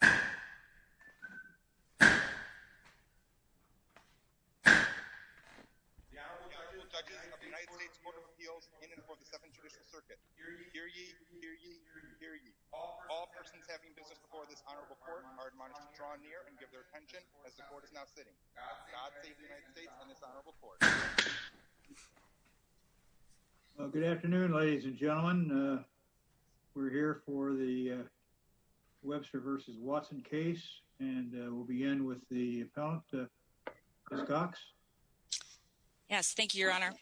The Honorable Judge of the United States Court of Appeals, in and before the Second Judicial Circuit. Hear ye, hear ye, hear ye. All persons having business before this Honorable Court are admonished to draw near and give their attention as the Court is now sitting. God save the United States and its Honorable Court. Good afternoon, ladies and gentlemen. We're here for the Webster v. Watson case, and we'll begin with the appellant, Ms. Cox. Yes, thank you, Your Honor.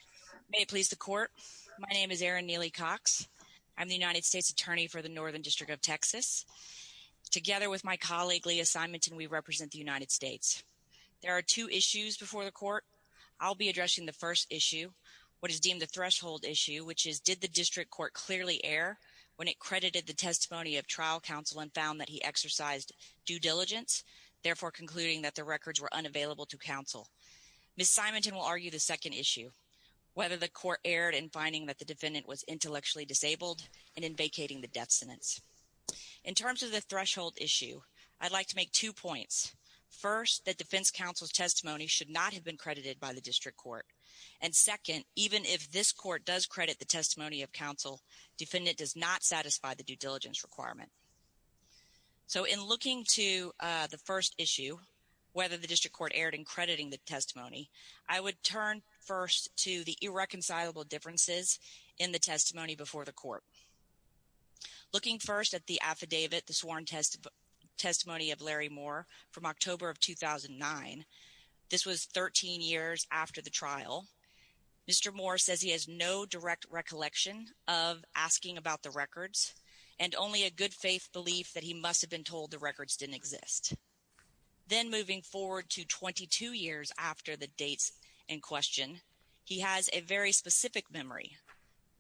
May it please the Court, my name is Erin Neely Cox. I'm the United States Attorney for the Northern District of Texas. Together with my colleague, Leah Simonton, we represent the United States. There are two issues before the Court. I'll be addressing the first issue, what is deemed the threshold issue, which is, did the District Court clearly err when it credited the testimony of trial counsel and found that he exercised due diligence, therefore concluding that the records were unavailable to counsel? Ms. Simonton will argue the second issue, whether the Court erred in finding that the defendant was intellectually disabled and in vacating the death sentence. In terms of the threshold issue, I'd like to make two points. First, that defense counsel's testimony should not have been credited by the District Court. And second, even if this Court does credit the testimony of counsel, defendant does not satisfy the due diligence requirement. So in looking to the first issue, whether the District Court erred in crediting the testimony, I would turn first to the irreconcilable differences in the testimony before the Court. Looking first at the affidavit, the sworn testimony of Larry Moore from October of 2009, this was 13 years after the trial. Mr. Moore says he has no direct recollection of asking about the records and only a good faith belief that he must have been told the records didn't exist. Then moving forward to 22 years after the dates in question, he has a very specific memory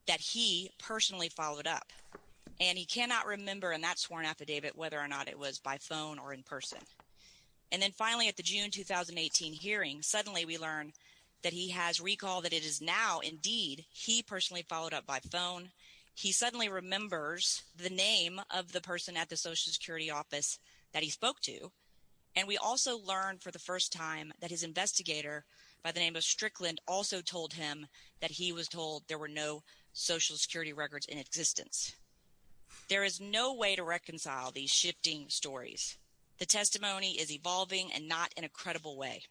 that he personally followed up. And he cannot remember in that sworn affidavit whether or not it was by phone or in person. And then finally at the June 2018 hearing, suddenly we learn that he has recalled that it is now indeed he personally followed up by phone. He suddenly remembers the name of the person at the Social Security office that he spoke to. And we also learn for the first time that his investigator by the name of Strickland also told him that he was told there were no Social Security records in existence. There is no way to reconcile these shifting stories. The testimony is evolving and not in a credible way.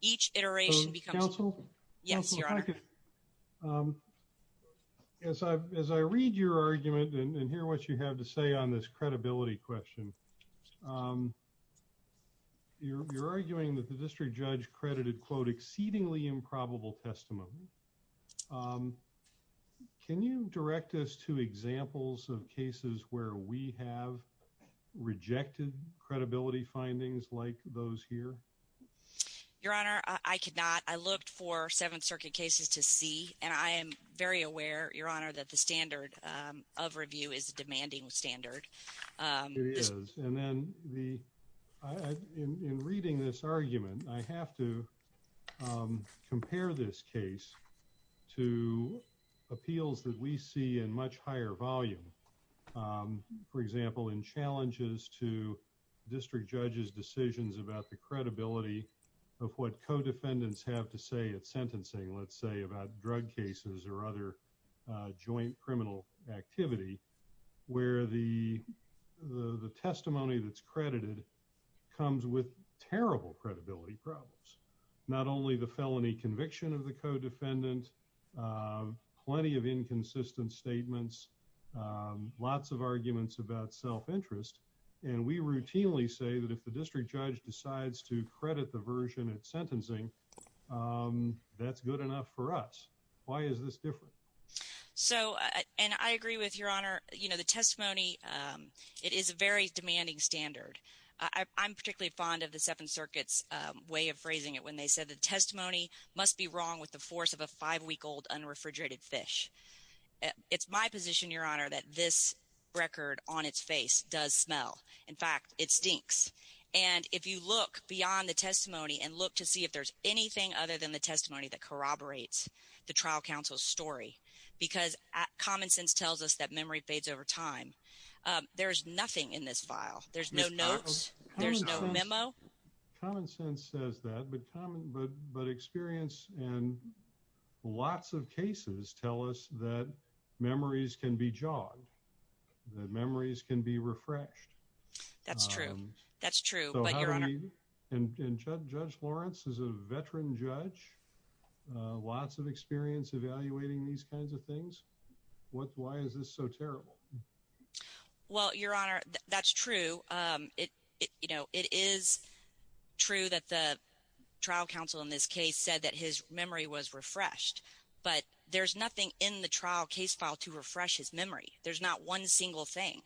Each iteration becomes... Counsel? Yes, Your Honor. As I read your argument and hear what you have to say on this credibility question, you're arguing that the district judge credited, quote, exceedingly improbable testimony. Can you direct us to examples of cases where we have rejected credibility findings like those here? Your Honor, I could not. I looked for Seventh Circuit cases to see, and I am very aware, Your Honor, that the standard of review is a demanding standard. It is. And then in reading this argument, I have to compare this case to appeals that we see in much higher volume. For example, in challenges to district judges' decisions about the credibility of what co-defendants have to say at sentencing, let's say about drug cases or other joint criminal activity, where the testimony that's credited comes with terrible credibility problems. Not only the felony conviction of the co-defendant, plenty of inconsistent statements, lots of arguments about self-interest. And we routinely say that if the district judge decides to credit the version at sentencing, that's good enough for us. Why is this different? So – and I agree with Your Honor. The testimony, it is a very demanding standard. I'm particularly fond of the Seventh Circuit's way of phrasing it when they said the testimony must be wrong with the force of a five-week-old unrefrigerated fish. It's my position, Your Honor, that this record on its face does smell. In fact, it stinks. And if you look beyond the testimony and look to see if there's anything other than the testimony that corroborates the trial counsel's story, because common sense tells us that memory fades over time, there's nothing in this file. There's no notes. There's no memo. Common sense says that, but experience and lots of cases tell us that memories can be jogged, that memories can be refreshed. That's true. That's true. And Judge Lawrence is a veteran judge, lots of experience evaluating these kinds of things. Why is this so terrible? Well, Your Honor, that's true. It is true that the trial counsel in this case said that his memory was refreshed, but there's nothing in the trial case file to refresh his memory. There's not one single thing.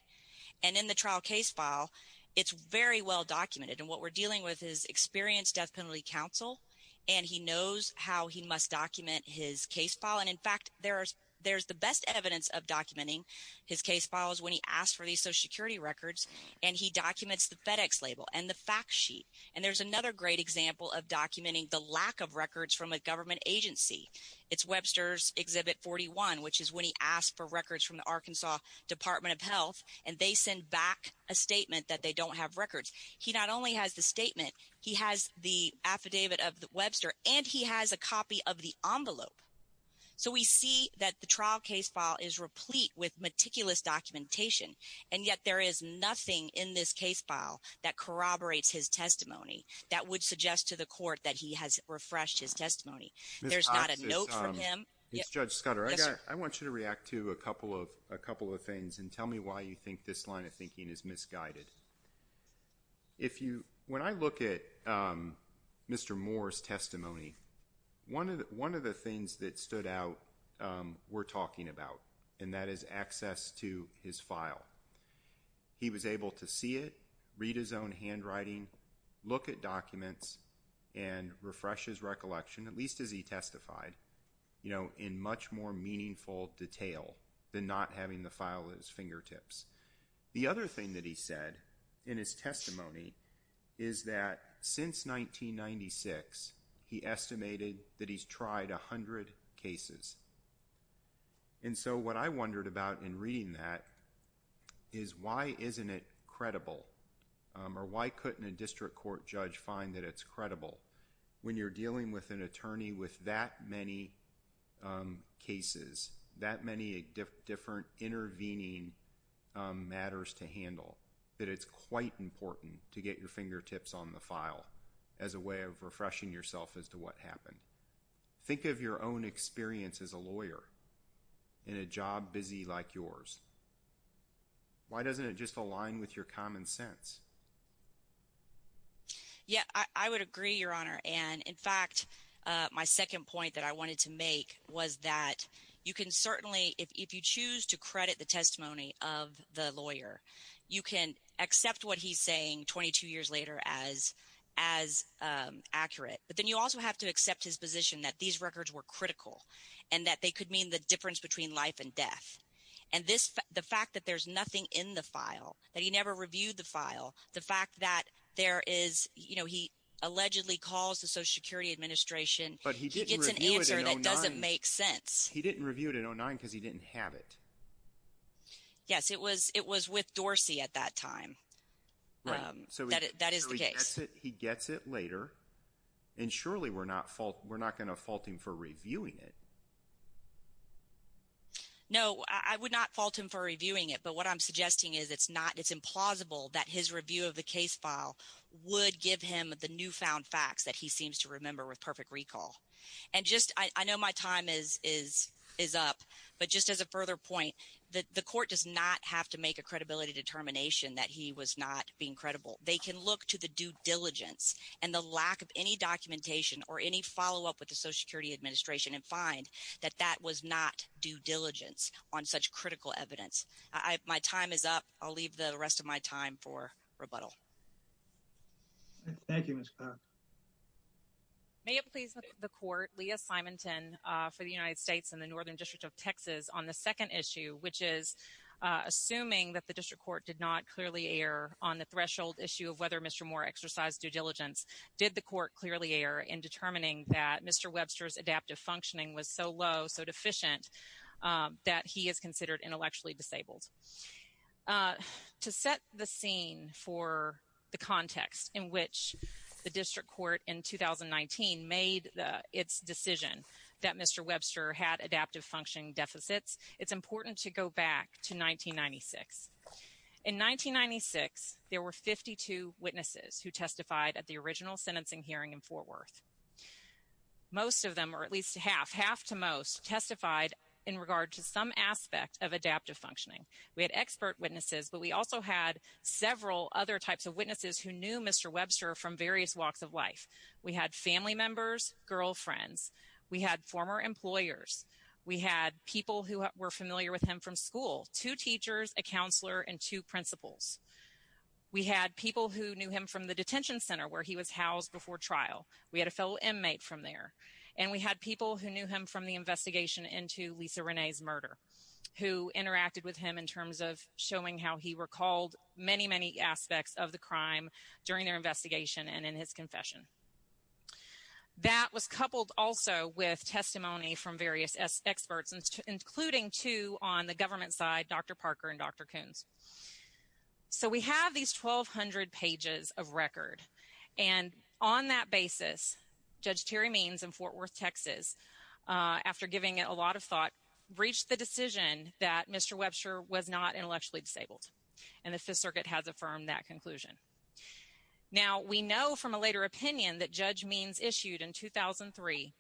And in the trial case file, it's very well documented, and what we're dealing with is experienced death penalty counsel, and he knows how he must document his case file. And in fact, there's the best evidence of documenting his case files when he asks for these Social Security records, and he documents the FedEx label and the fact sheet. And there's another great example of documenting the lack of records from a government agency. It's Webster's Exhibit 41, which is when he asks for records from the Arkansas Department of Health, and they send back a statement that they don't have records. He not only has the statement, he has the affidavit of Webster, and he has a copy of the envelope. So we see that the trial case file is replete with meticulous documentation, and yet there is nothing in this case file that corroborates his testimony that would suggest to the court that he has refreshed his testimony. There's not a note from him. It's Judge Scudder. I want you to react to a couple of things and tell me why you think this line of thinking is misguided. When I look at Mr. Moore's testimony, one of the things that stood out we're talking about, and that is access to his file. He was able to see it, read his own handwriting, look at documents, and refresh his recollection, at least as he testified, in much more meaningful detail than not having the file at his fingertips. The other thing that he said in his testimony is that since 1996, he estimated that he's tried 100 cases. And so what I wondered about in reading that is why isn't it credible, or why couldn't a district court judge find that it's credible? When you're dealing with an attorney with that many cases, that many different intervening matters to handle, that it's quite important to get your fingertips on the file as a way of refreshing yourself as to what happened. Think of your own experience as a lawyer in a job busy like yours. Why doesn't it just align with your common sense? Yeah, I would agree, Your Honor, and in fact, my second point that I wanted to make was that you can certainly – if you choose to credit the testimony of the lawyer, you can accept what he's saying 22 years later as accurate. But then you also have to accept his position that these records were critical and that they could mean the difference between life and death. And this – the fact that there's nothing in the file, that he never reviewed the file, the fact that there is – he allegedly calls the Social Security Administration. But he didn't review it in 2009. It's an answer that doesn't make sense. He didn't review it in 2009 because he didn't have it. Yes, it was with Dorsey at that time. Right. That is the case. He gets it later, and surely we're not going to fault him for reviewing it. No, I would not fault him for reviewing it. But what I'm suggesting is it's not – it's implausible that his review of the case file would give him the newfound facts that he seems to remember with perfect recall. And just – I know my time is up, but just as a further point, the court does not have to make a credibility determination that he was not being credible. They can look to the due diligence and the lack of any documentation or any follow-up with the Social Security Administration and find that that was not due diligence on such critical evidence. My time is up. I'll leave the rest of my time for rebuttal. Thank you, Ms. Farr. May it please the Court, Leah Simonson for the United States and the Northern District of Texas, on the second issue, which is assuming that the district court did not clearly err on the threshold issue of whether Mr. Moore exercised due diligence, did the court clearly err in determining that Mr. Webster's adaptive functioning was so low, so deficient, that he is considered intellectually disabled? To set the scene for the context in which the district court in 2019 made its decision that Mr. Webster had adaptive functioning deficits, it's important to go back to 1996. In 1996, there were 52 witnesses who testified at the original sentencing hearing in Fort Worth. Most of them, or at least half, half to most, testified in regard to some aspect of adaptive functioning. We had expert witnesses, but we also had several other types of witnesses who knew Mr. Webster from various walks of life. We had family members, girlfriends. We had former employers. We had people who were familiar with him from school, two teachers, a counselor, and two principals. We had people who knew him from the detention center where he was housed before trial. We had a fellow inmate from there, and we had people who knew him from the investigation into Lisa Renee's murder, who interacted with him in terms of showing how he recalled many, many aspects of the crime during their investigation and in his confession. That was coupled also with testimony from various experts, including two on the government side, Dr. Parker and Dr. Coons. So we have these 1,200 pages of record, and on that basis, Judge Terry Means in Fort Worth, Texas, after giving it a lot of thought, reached the decision that Mr. Webster was not intellectually disabled, and the Fifth Circuit has affirmed that conclusion. Now, we know from a later opinion that Judge Means issued in 2003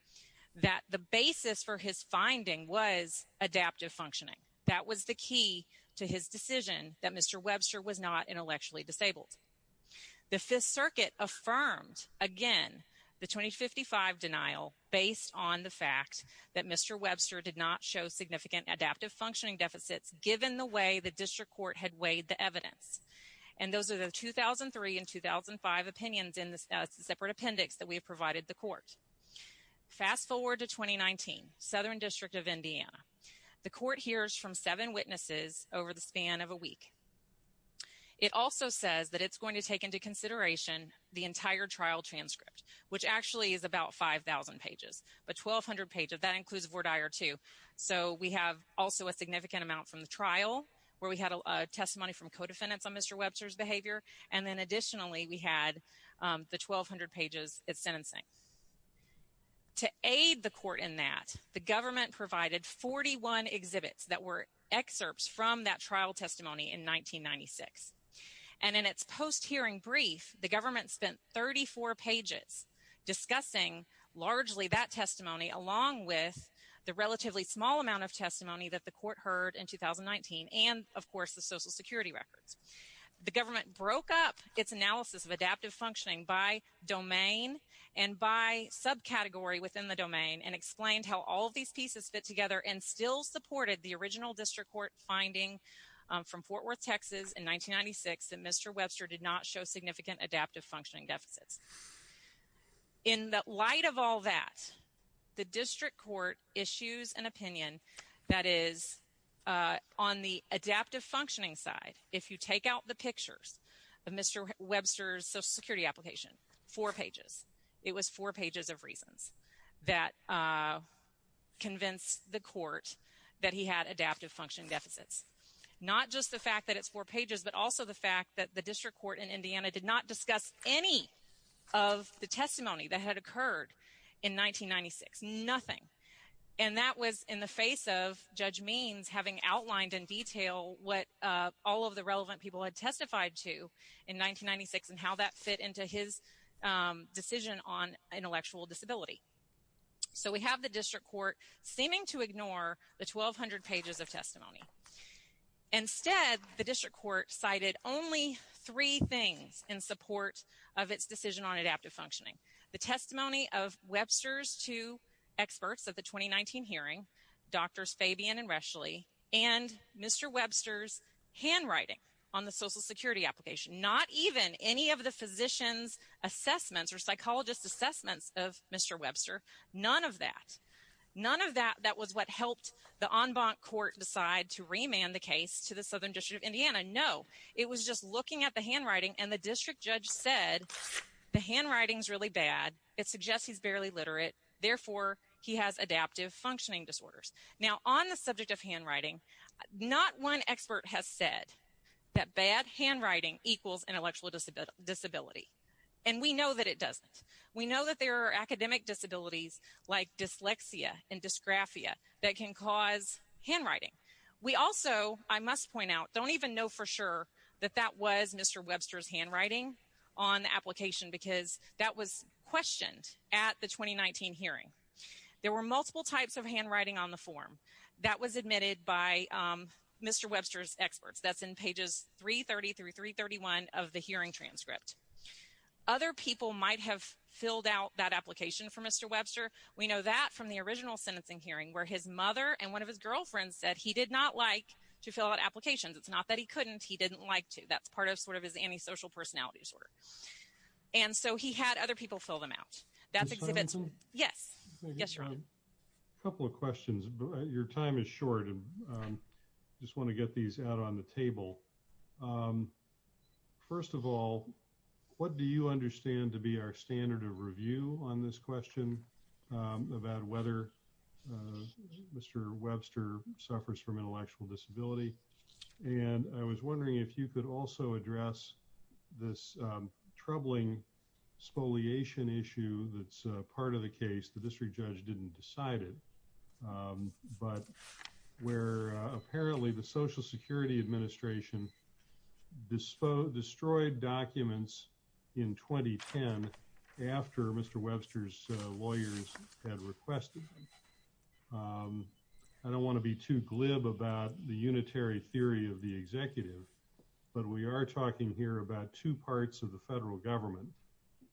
that the basis for his finding was adaptive functioning. That was the key to his decision that Mr. Webster was not intellectually disabled. The Fifth Circuit affirmed, again, the 2055 denial based on the fact that Mr. Webster did not show significant adaptive functioning deficits, given the way the district court had weighed the evidence. And those are the 2003 and 2005 opinions in the separate appendix that we provided the court. Fast forward to 2019, Southern District of Indiana. The court hears from seven witnesses over the span of a week. It also says that it's going to take into consideration the entire trial transcript, which actually is about 5,000 pages, but 1,200 pages. That includes Ward I or II. So we have also a significant amount from the trial, where we had a testimony from co-defendants on Mr. Webster's behavior, and then additionally, we had the 1,200 pages of sentencing. To aid the court in that, the government provided 41 exhibits that were excerpts from that trial testimony in 1996. And in its post-hearing brief, the government spent 34 pages discussing largely that testimony, along with the relatively small amount of testimony that the court heard in 2019 and, of course, the Social Security records. The government broke up its analysis of adaptive functioning by domain and by subcategory within the domain and explained how all of these pieces fit together and still supported the original district court finding from Fort Worth, Texas in 1996 that Mr. Webster did not show significant adaptive functioning deficits. In light of all that, the district court issues an opinion that is on the adaptive functioning side. If you take out the pictures of Mr. Webster's Social Security application, four pages. It was four pages of reasons that convinced the court that he had adaptive functioning deficits. Not just the fact that it's four pages, but also the fact that the district court in Indiana did not discuss any of the testimony that had occurred in 1996. Nothing. And that was in the face of Judge Means having outlined in detail what all of the relevant people had testified to in 1996 and how that fit into his decision on intellectual disability. So we have the district court seeming to ignore the 1,200 pages of testimony. Instead, the district court cited only three things in support of its decision on adaptive functioning. The testimony of Webster's two experts at the 2019 hearing, Drs. Fabian and Reschle, and Mr. Webster's handwriting on the Social Security application. Not even any of the physician's assessments or psychologist's assessments of Mr. Webster. None of that. None of that that was what helped the en banc court decide to remand the case to the Southern District of Indiana. No. It was just looking at the handwriting and the district judge said the handwriting's really bad. It suggests he's barely literate. Therefore, he has adaptive functioning disorders. Now, on the subject of handwriting, not one expert has said that bad handwriting equals intellectual disability. And we know that it doesn't. We know that there are academic disabilities like dyslexia and dysgraphia that can cause handwriting. We also, I must point out, don't even know for sure that that was Mr. Webster's handwriting on the application because that was questioned at the 2019 hearing. There were multiple types of handwriting on the form. That was admitted by Mr. Webster's experts. That's in pages 333, 331 of the hearing transcript. Other people might have filled out that application for Mr. Webster. We know that from the original sentencing hearing where his mother and one of his girlfriends said he did not like to fill out applications. It's not that he couldn't. He didn't like to. That's part of sort of his antisocial personality disorder. And so he had other people fill them out. Yes. Yes, sir. A couple of questions. Your time is short and I just want to get these out on the table. First of all, what do you understand to be our standard of review on this question about whether Mr. Webster suffers from intellectual disability? And I was wondering if you could also address this troubling spoliation issue that's part of the case. The district judge didn't decide it. But where apparently the Social Security Administration destroyed documents in 2010 after Mr. Webster's lawyers had requested. I don't want to be too glib about the unitary theory of the executive. But we are talking here about two parts of the federal government.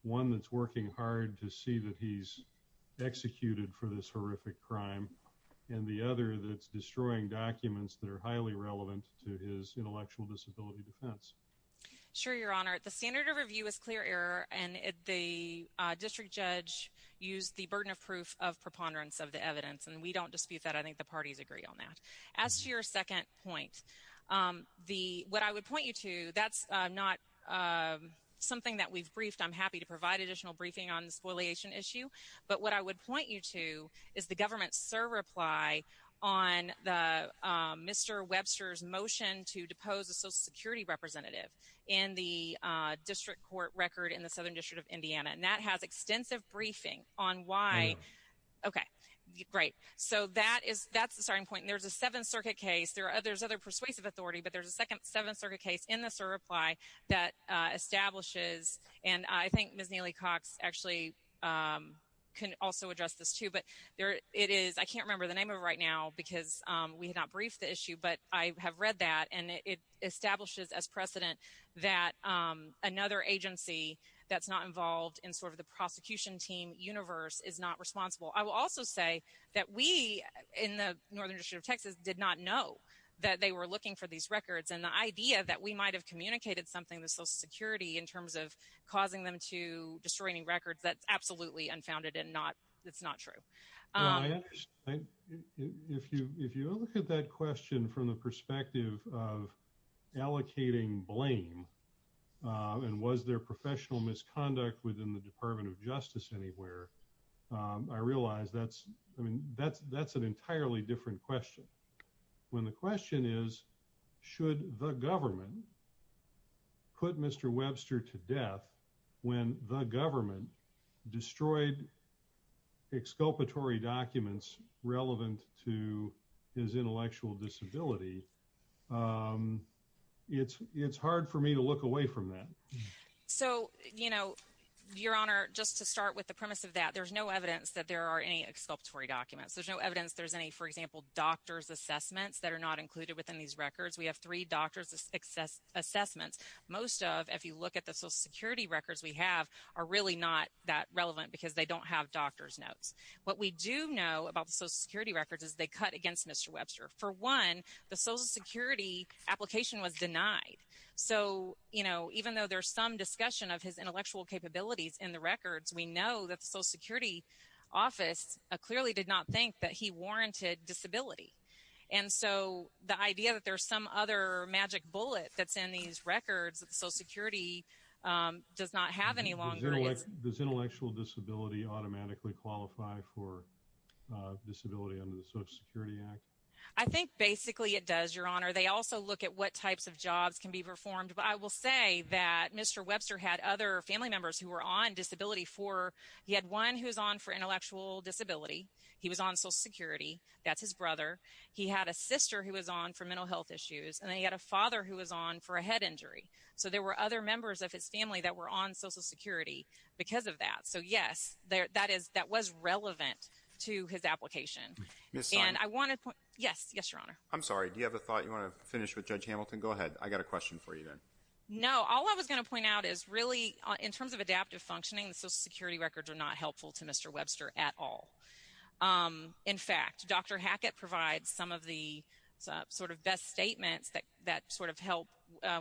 One that's working hard to see that he's executed for this horrific crime. And the other that's destroying documents that are highly relevant to his intellectual disability defense. Sure, Your Honor. The standard of review is clear error and the district judge used the burden of proof of preponderance of the evidence. And we don't dispute that. I think the parties agree on that. As to your second point, what I would point you to, that's not something that we've briefed. I'm happy to provide additional briefing on the spoliation issue. But what I would point you to is the government's surreply on Mr. Webster's motion to depose a Social Security representative in the district court record in the Southern District of Indiana. And that has extensive briefing on why. Okay, great. So that's the starting point. And there's a Seventh Circuit case. There's other persuasive authority. But there's a second Seventh Circuit case in the surreply that establishes. And I think Ms. Neely-Cox actually can also address this, too. But it is – I can't remember the name of it right now because we have not briefed the issue, but I have read that. And it establishes as precedent that another agency that's not involved in sort of the prosecution team universe is not responsible. I will also say that we in the Northern District of Texas did not know that they were looking for these records. And the idea that we might have communicated something to Social Security in terms of causing them to destroy any records, that's absolutely unfounded and it's not true. If you look at that question from the perspective of allocating blame and was there professional misconduct within the Department of Justice anywhere, I realize that's an entirely different question. When the question is, should the government put Mr. Webster to death when the government destroyed exculpatory documents relevant to his intellectual disability, it's hard for me to look away from that. So Your Honor, just to start with the premise of that, there's no evidence that there are any exculpatory documents. There's no evidence there's any, for example, doctor's assessments that are not included within these records. We have three doctor's assessments. Most of, if you look at the Social Security records we have, are really not that relevant because they don't have doctor's notes. What we do know about the Social Security records is they cut against Mr. Webster. For one, the Social Security application was denied. So, you know, even though there's some discussion of his intellectual capabilities in the records, we know that the Social Security office clearly did not think that he warranted disability. And so the idea that there's some other magic bullet that's in these records, Social Security does not have any long-term... Does intellectual disability automatically qualify for disability under the Social Security Act? I think basically it does, Your Honor. They also look at what types of jobs can be performed, but I will say that Mr. Webster had other family members who were on disability for... He had one who was on for intellectual disability. He was on Social Security. That's his brother. He had a sister who was on for mental health issues. And then he had a father who was on for a head injury. So there were other members of his family that were on Social Security because of that. So, yes, that is – that was relevant to his application. And I want to point... Yes, Your Honor. I'm sorry. Do you have a thought you want to finish with, Judge Hamilton? Go ahead. I've got a question for you then. No. All I was going to point out is really in terms of adaptive functioning, the Social Security records are not helpful to Mr. Webster at all. In fact, Dr. Hackett provides some of the sort of best statements that sort of help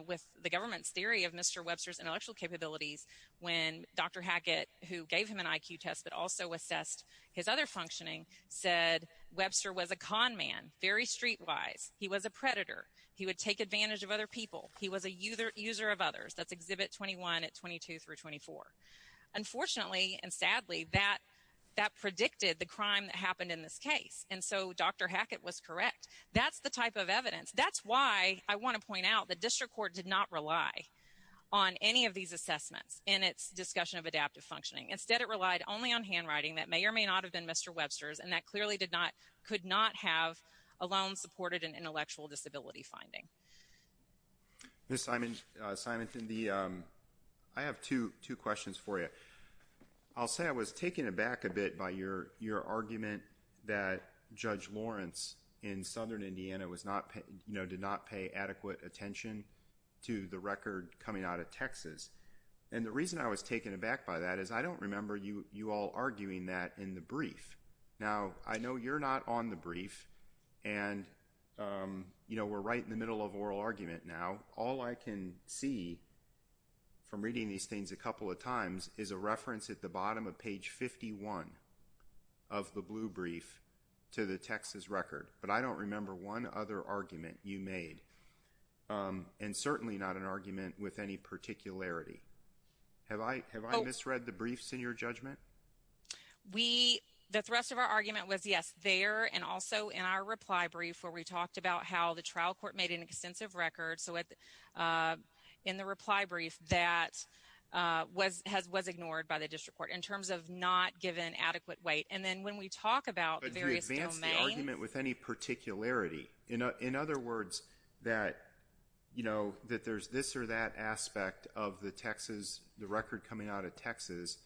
with the government's theory of Mr. Webster's intellectual capabilities when Dr. Hackett, who gave him an IQ test that also assessed his other functioning, said Webster was a conman, very streetwise. He was a predator. He would take advantage of other people. He was a user of others. That's Exhibit 21 at 22 through 24. Unfortunately and sadly, that predicted the crime that happened in this case. And so Dr. Hackett was correct. That's the type of evidence. That's why I want to point out the district court did not rely on any of these assessments in its discussion of adaptive functioning. Instead, it relied only on handwriting that may or may not have been Mr. Webster's and that clearly could not have alone supported an intellectual disability finding. Ms. Simonson, I have two questions for you. I'll say I was taken aback a bit by your argument that Judge Lawrence in southern Indiana did not pay adequate attention to the record coming out of Texas. And the reason I was taken aback by that is I don't remember you all arguing that in the brief. Now, I know you're not on the brief, and we're right in the middle of oral argument now. All I can see from reading these things a couple of times is a reference at the bottom of page 51 of the blue brief to the Texas record. But I don't remember one other argument you made, and certainly not an argument with any particularity. Have I misread the briefs in your judgment? The thrust of our argument was, yes, there and also in our reply brief where we talked about how the trial court made an extensive record. So in the reply brief, that was ignored by the district court in terms of not giving adequate weight. And then when we talk about the various domains— But you advance the argument with any particularity. In other words, that there's this or that aspect of the record coming out of Texas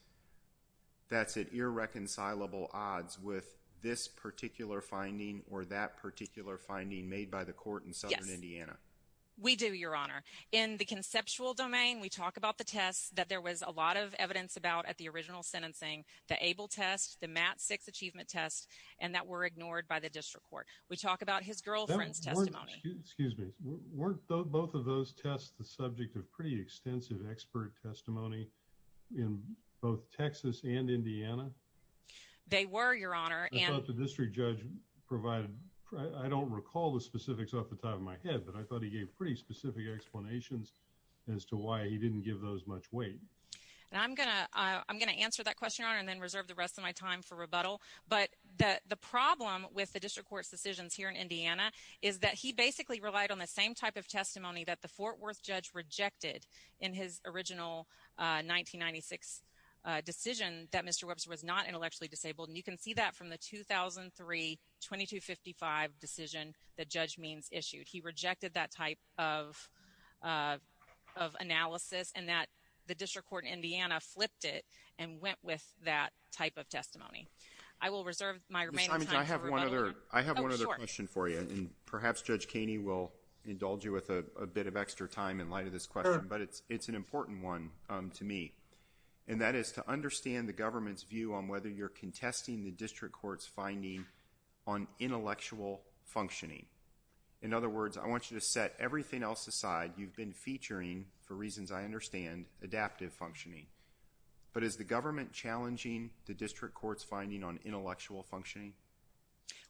that's at irreconcilable odds with this particular finding or that particular finding made by the court in southern Indiana. Yes, we do, Your Honor. In the conceptual domain, we talk about the test that there was a lot of evidence about at the original sentencing, the ABLE test, the MAT-6 achievement test, and that were ignored by the district court. We talk about his girlfriend's testimony. Excuse me. Weren't both of those tests the subject of pretty extensive expert testimony in both Texas and Indiana? They were, Your Honor. The district judge provided—I don't recall the specifics off the top of my head, but I thought he gave pretty specific explanations as to why he didn't give those much weight. I'm going to answer that question, Your Honor, and then reserve the rest of my time for rebuttal. But the problem with the district court's decisions here in Indiana is that he basically relied on the same type of testimony that the Fort Worth judge rejected in his original 1996 decision that Mr. Webster was not intellectually disabled. And you can see that from the 2003-2255 decision that Judge Means issued. He rejected that type of analysis and that the district court in Indiana flipped it and went with that type of testimony. I will reserve my remaining time for rebuttal. I have one other question for you, and perhaps Judge Kaney will indulge you with a bit of extra time in light of this question, but it's an important one to me. And that is to understand the government's view on whether you're contesting the district court's finding on intellectual functioning. In other words, I want you to set everything else aside you've been featuring, for reasons I understand, adaptive functioning. But is the government challenging the district court's finding on intellectual functioning?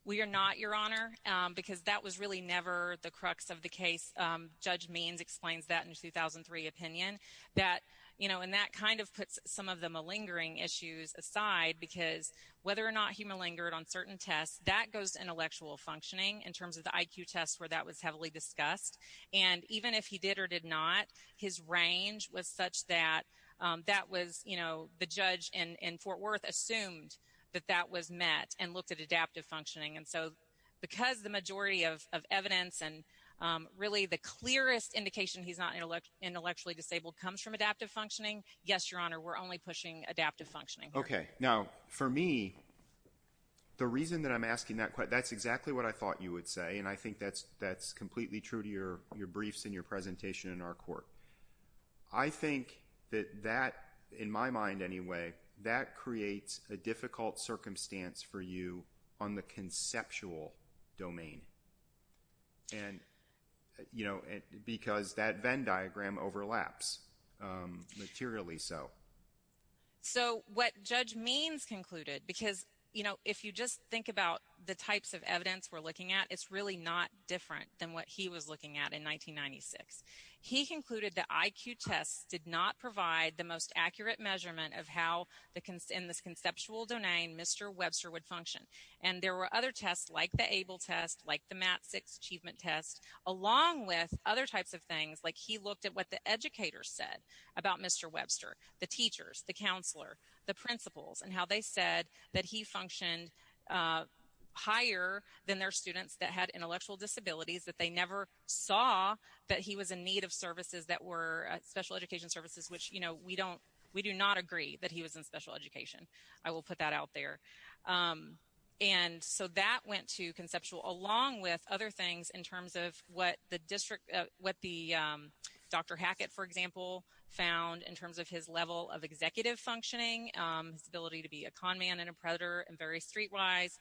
We are not, Your Honor, because that was really never the crux of the case. Judge Means explains that in his 2003 opinion. And that kind of puts some of the malingering issues aside, because whether or not he malingered on certain tests, that goes to intellectual functioning in terms of the IQ tests where that was heavily discussed. And even if he did or did not, his range was such that the judge in Fort Worth assumed that that was met and looked at adaptive functioning. And so because the majority of evidence and really the clearest indication he's not intellectually disabled comes from adaptive functioning, yes, Your Honor, we're only pushing adaptive functioning. Okay. Now, for me, the reason that I'm asking that question, that's exactly what I thought you would say, and I think that's completely true to your briefs and your presentation in our court. I think that that, in my mind anyway, that creates a difficult circumstance for you on the conceptual domain, because that Venn diagram overlaps, materially so. So what Judge Means concluded, because if you just think about the types of evidence we're looking at, it's really not different than what he was looking at in 1996. He concluded that IQ tests did not provide the most accurate measurement of how, in this conceptual domain, Mr. Webster would function. And there were other tests like the ABLE test, like the MAT-6 achievement test, along with other types of things, like he looked at what the educators said about Mr. Webster, the teachers, the counselor, the principals, and how they said that he functioned higher than their students that had intellectual disabilities, that they never saw that he was in need of services that were special education services, which we do not agree that he was in special education. I will put that out there. And so that went to conceptual, along with other things in terms of what Dr. Hackett, for example, found in terms of his level of executive functioning, ability to be a con man and a predator and very streetwise,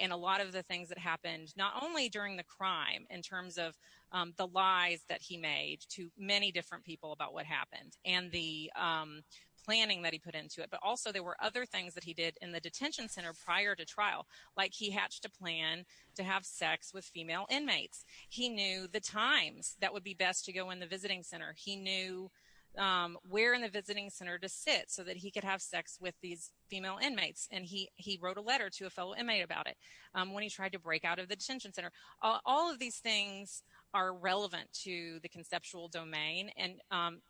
and a lot of the things that happened not only during the crime in terms of the lies that he made to many different people about what happened and the planning that he put into it, but also there were other things that he did in the detention center prior to trial, like he hatched a plan to have sex with female inmates. He knew the times that would be best to go in the visiting center. He knew where in the visiting center to sit so that he could have sex with these female inmates, and he wrote a letter to a fellow inmate about it when he tried to break out of the detention center. All of these things are relevant to the conceptual domain, and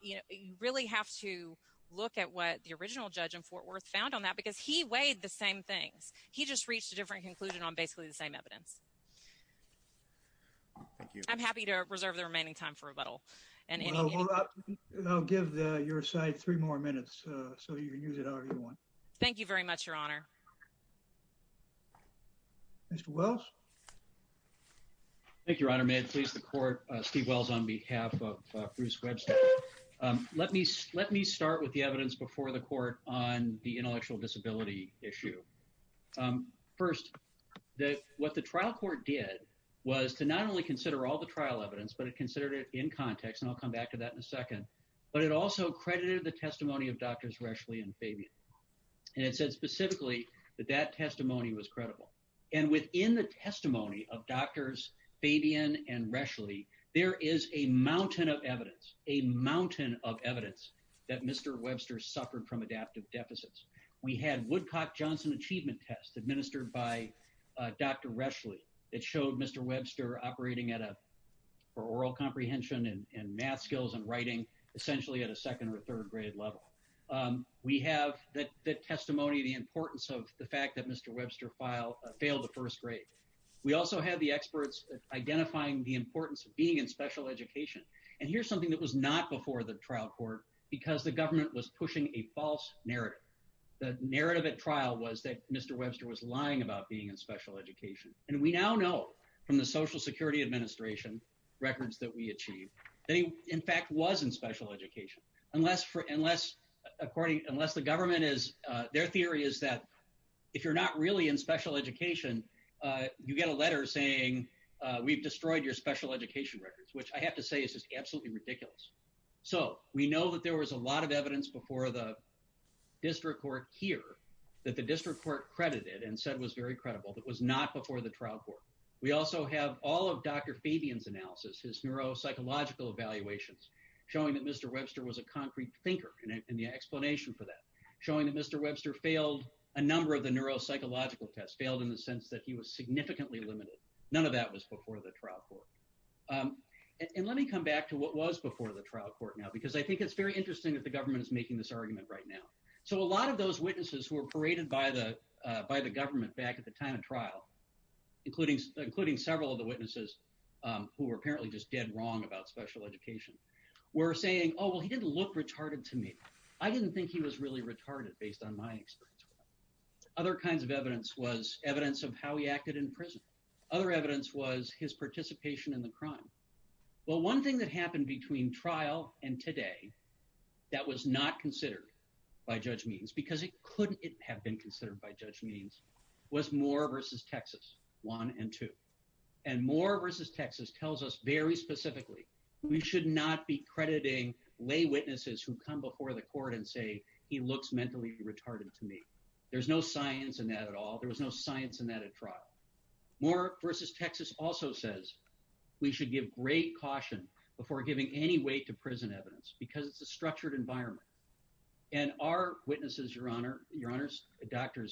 you really have to look at what the original judge in Fort Worth found on that because he weighed the same thing. He just reached a different conclusion on basically the same evidence. I'm happy to reserve the remaining time for rebuttal. I'll give your side three more minutes, so you can use it however you want. Thank you very much, Your Honor. Mr. Wells? Thank you, Your Honor. May it please the court, Steve Wells on behalf of Bruce Webster. Let me start with the evidence before the court on the intellectual disability issue. First, what the trial court did was to not only consider all the trial evidence, but it considered it in context, and I'll come back to that in a second, but it also credited the testimony of Drs. Reschle and Fabian, and it said specifically that that testimony was credible, and within the testimony of Drs. Fabian and Reschle, there is a mountain of evidence, a mountain of evidence that Mr. Webster suffered from adaptive deficits. We had Woodcock-Johnson achievement test administered by Dr. Reschle that showed Mr. Webster operating at a, for oral comprehension and math skills and writing, essentially at a second or third grade level. We have the testimony, the importance of the fact that Mr. Webster failed the first grade. We also have the experts identifying the importance of being in special education. And here's something that was not before the trial court because the government was pushing a false narrative. The narrative at trial was that Mr. Webster was lying about being in special education, and we now know from the Social Security Administration records that we achieved that he, in fact, was in special education, unless the government is, their theory is that if you're not really in special education, you get a letter saying we've destroyed your special education records, which I have to say is just absolutely ridiculous. So we know that there was a lot of evidence before the district court here that the district court credited and said was very credible. It was not before the trial court. We also have all of Dr. Fabian's analysis, his neuropsychological evaluations, showing that Mr. Webster was a concrete thinker, and the explanation for that, showing that Mr. Webster failed a number of the neuropsychological tests, failed in the sense that he was significantly limited. None of that was before the trial court. And let me come back to what was before the trial court now because I think it's very interesting that the government is making this argument right now. So a lot of those witnesses who were paraded by the government back at the time of trial, including several of the witnesses who were apparently just dead wrong about special education, were saying, oh, well, he didn't look retarded to me. I didn't think he was really retarded based on my experience. Other kinds of evidence was evidence of how he acted in prison. Other evidence was his participation in the crime. Well, one thing that happened between trial and today that was not considered by Judge Means, because it couldn't have been considered by Judge Means, was Moore v. Texas 1 and 2. And Moore v. Texas tells us very specifically we should not be crediting lay witnesses who come before the court and say he looks mentally retarded to me. There's no science in that at all. There was no science in that at trial. Moore v. Texas also says we should give great caution before giving any weight to prison evidence because it's a structured environment. And our witnesses, Your Honors, Drs.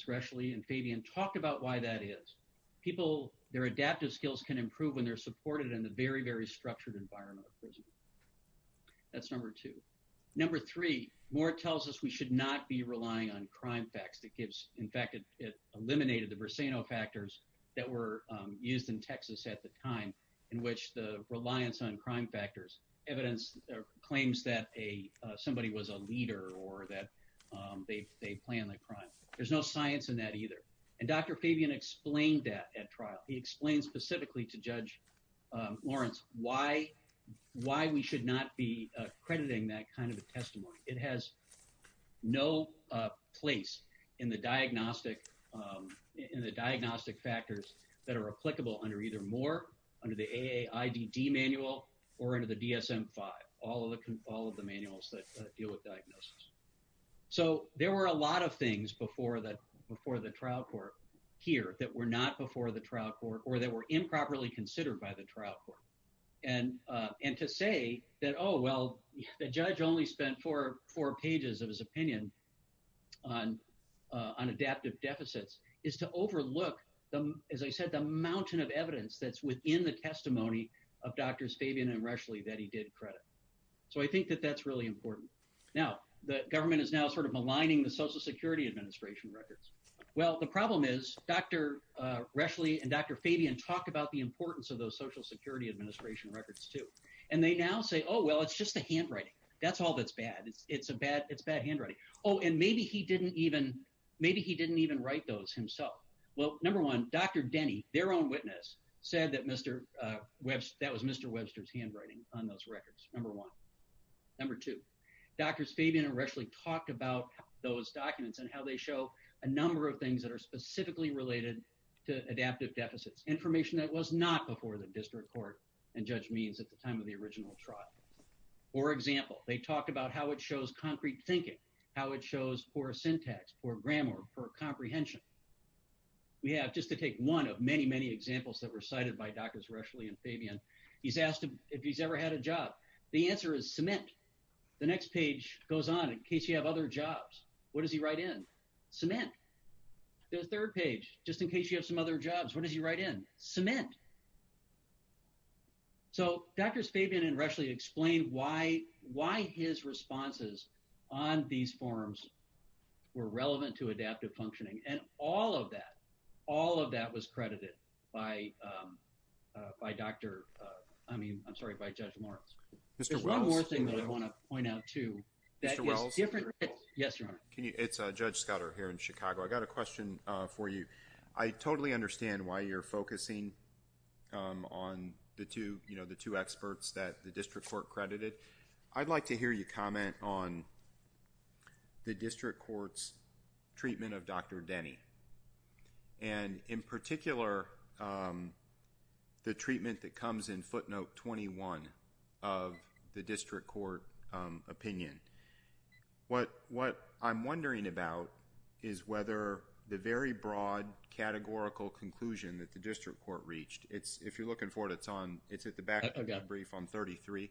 Rescheli and Fabian, talked about why that is. People, their adaptive skills can improve when they're supported in a very, very structured environment of prison. That's number two. Number three, Moore tells us we should not be relying on crime facts. In fact, it eliminated the Berseno factors that were used in Texas at the time in which the reliance on crime factors, evidence, claims that somebody was a leader or that they planned the crime. There's no science in that either. And Dr. Fabian explained that at trial. He explained specifically to Judge Lawrence why we should not be crediting that kind of a testimony. It has no place in the diagnostic factors that are applicable under either Moore, under the AAIBD manual, or under the DSM-5, all of the manuals that deal with diagnosis. So there were a lot of things before the trial court here that were not before the trial court or that were improperly considered by the trial court. And to say that, oh, well, the judge only spent four pages of his opinion on adaptive deficits is to overlook, as I said, the mountain of evidence that's within the testimony of Drs. Fabian and Rescheli that he did credit. So I think that that's really important. Now, the government is now sort of aligning the Social Security Administration records. Well, the problem is Dr. Rescheli and Dr. Fabian talked about the importance of those Social Security Administration records too. And they now say, oh, well, it's just the handwriting. That's all that's bad. It's bad handwriting. Oh, and maybe he didn't even write those himself. Well, number one, Dr. Denny, their own witness, said that that was Mr. Webster's handwriting on those records, number one. Number two, Drs. Fabian and Rescheli talked about those documents and how they show a number of things that are specifically related to adaptive deficits, information that was not before the district court and Judge Means at the time of the original trial. For example, they talked about how it shows concrete thinking, how it shows poor syntax, poor grammar, poor comprehension. We have, just to take one of many, many examples that were cited by Drs. Rescheli and Fabian, he's asked them if he's ever had a job. The answer is cement. The next page goes on, in case you have other jobs. What does he write in? Cement. The third page, just in case you have some other jobs, what does he write in? Cement. So, Drs. Fabian and Rescheli explained why his responses on these forms were relevant to adaptive functioning. And all of that, all of that was credited by Dr., I mean, I'm sorry, by Judge Lawrence. There's one more thing that I want to point out, too. Mr. Wells? Yes, Your Honor. It's Judge Scudder here in Chicago. I got a question for you. I totally understand why you're focusing on the two experts that the district court credited. I'd like to hear you comment on the district court's treatment of Dr. Denny. And, in particular, the treatment that comes in footnote 21 of the district court opinion. What I'm wondering about is whether the very broad categorical conclusion that the district court reached, if you're looking for it, it's at the back of the brief on 33.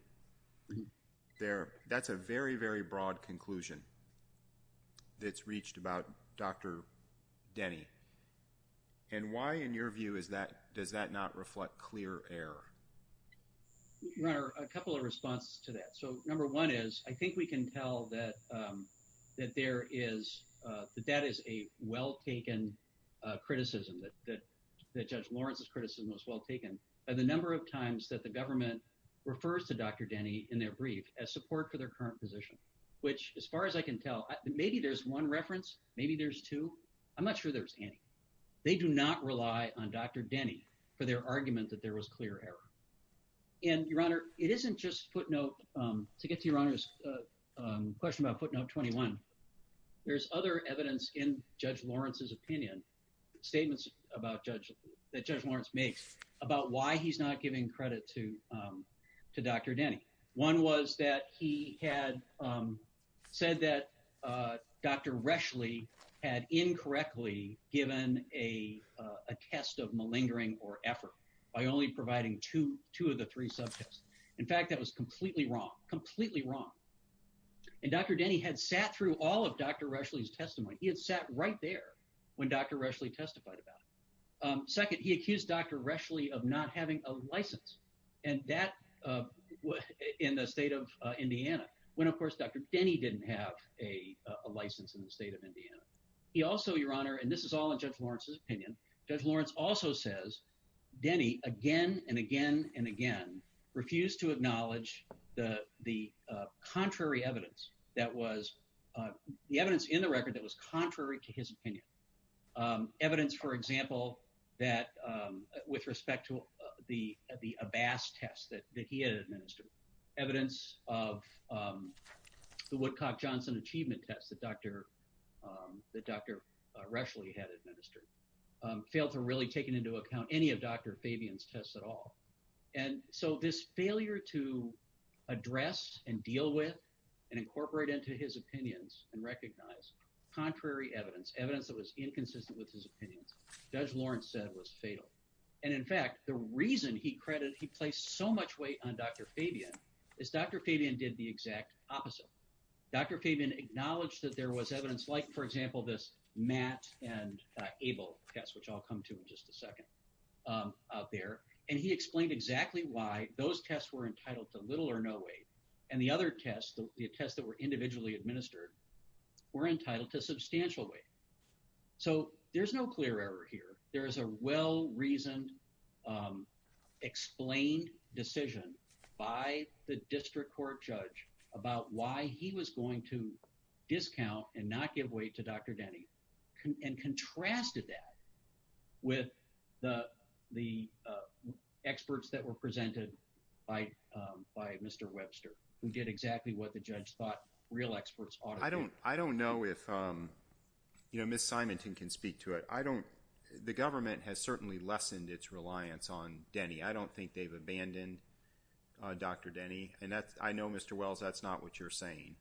That's a very, very broad conclusion that's reached about Dr. Denny. And why, in your view, does that not reflect clear error? Your Honor, a couple of responses to that. So, number one is, I think we can tell that there is, that that is a well-taken criticism, that Judge Lawrence's criticism is well-taken by the number of times that the government refers to Dr. Denny in their brief as support for their current position. Which, as far as I can tell, maybe there's one reference, maybe there's two. I'm not sure there's any. They do not rely on Dr. Denny for their argument that there was clear error. And, Your Honor, it isn't just footnote, to get to Your Honor's question about footnote 21. There's other evidence in Judge Lawrence's opinion, statements about Judge, that Judge Lawrence makes, about why he's not giving credit to Dr. Denny. One was that he had said that Dr. Reschle had incorrectly given a test of malingering or effort by only providing two of the three subjects. In fact, that was completely wrong, completely wrong. And Dr. Denny had sat through all of Dr. Reschle's testimony. He had sat right there when Dr. Reschle testified about it. Second, he accused Dr. Reschle of not having a license. And that was in the state of Indiana, when, of course, Dr. Denny didn't have a license in the state of Indiana. He also, Your Honor, and this is all in Judge Lawrence's opinion, Judge Lawrence also says Denny again and again and again refused to acknowledge the contrary evidence that was – the evidence in the record that was contrary to his opinion. Evidence, for example, that with respect to the Abass test that he had administered, evidence of the Woodcock-Johnson achievement test that Dr. Reschle had administered, failed to really take into account any of Dr. Fabian's tests at all. And so this failure to address and deal with and incorporate into his opinions and recognize contrary evidence, evidence that was inconsistent with his opinion, Judge Lawrence said was fatal. And in fact, the reason he placed so much weight on Dr. Fabian is Dr. Fabian did the exact opposite. Dr. Fabian acknowledged that there was evidence like, for example, this Matt and Abel test, which I'll come to in just a second, out there. And he explained exactly why those tests were entitled to little or no weight and the other tests, the tests that were individually administered, were entitled to substantial weight. So there's no clear error here. There is a well-reasoned, explained decision by the district court judge about why he was going to discount and not give weight to Dr. Denny and contrasted that with the experts that were presented by Mr. Webster, who did exactly what the judge thought real experts ought to do. I don't know if, you know, Ms. Simonton can speak to it. I don't, the government has certainly lessened its reliance on Denny. I don't think they've abandoned Dr. Denny. And I know, Mr. Wells, that's not what you're saying.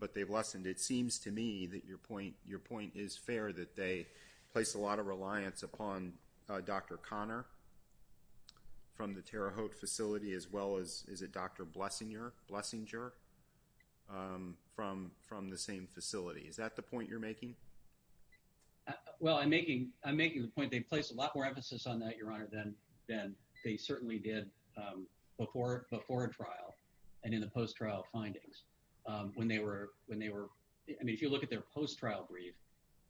But they've lessened, it seems to me that your point, your point is fair that they place a lot of reliance upon Dr. Connor from the Terre Haute facility as well as, is it Dr. Blessinger from the same facility. Is that the point you're making? Well, I'm making the point they place a lot more emphasis on that, Your Honor, than they certainly did before trial and in the post-trial findings. When they were, I mean, if you look at their post-trial brief,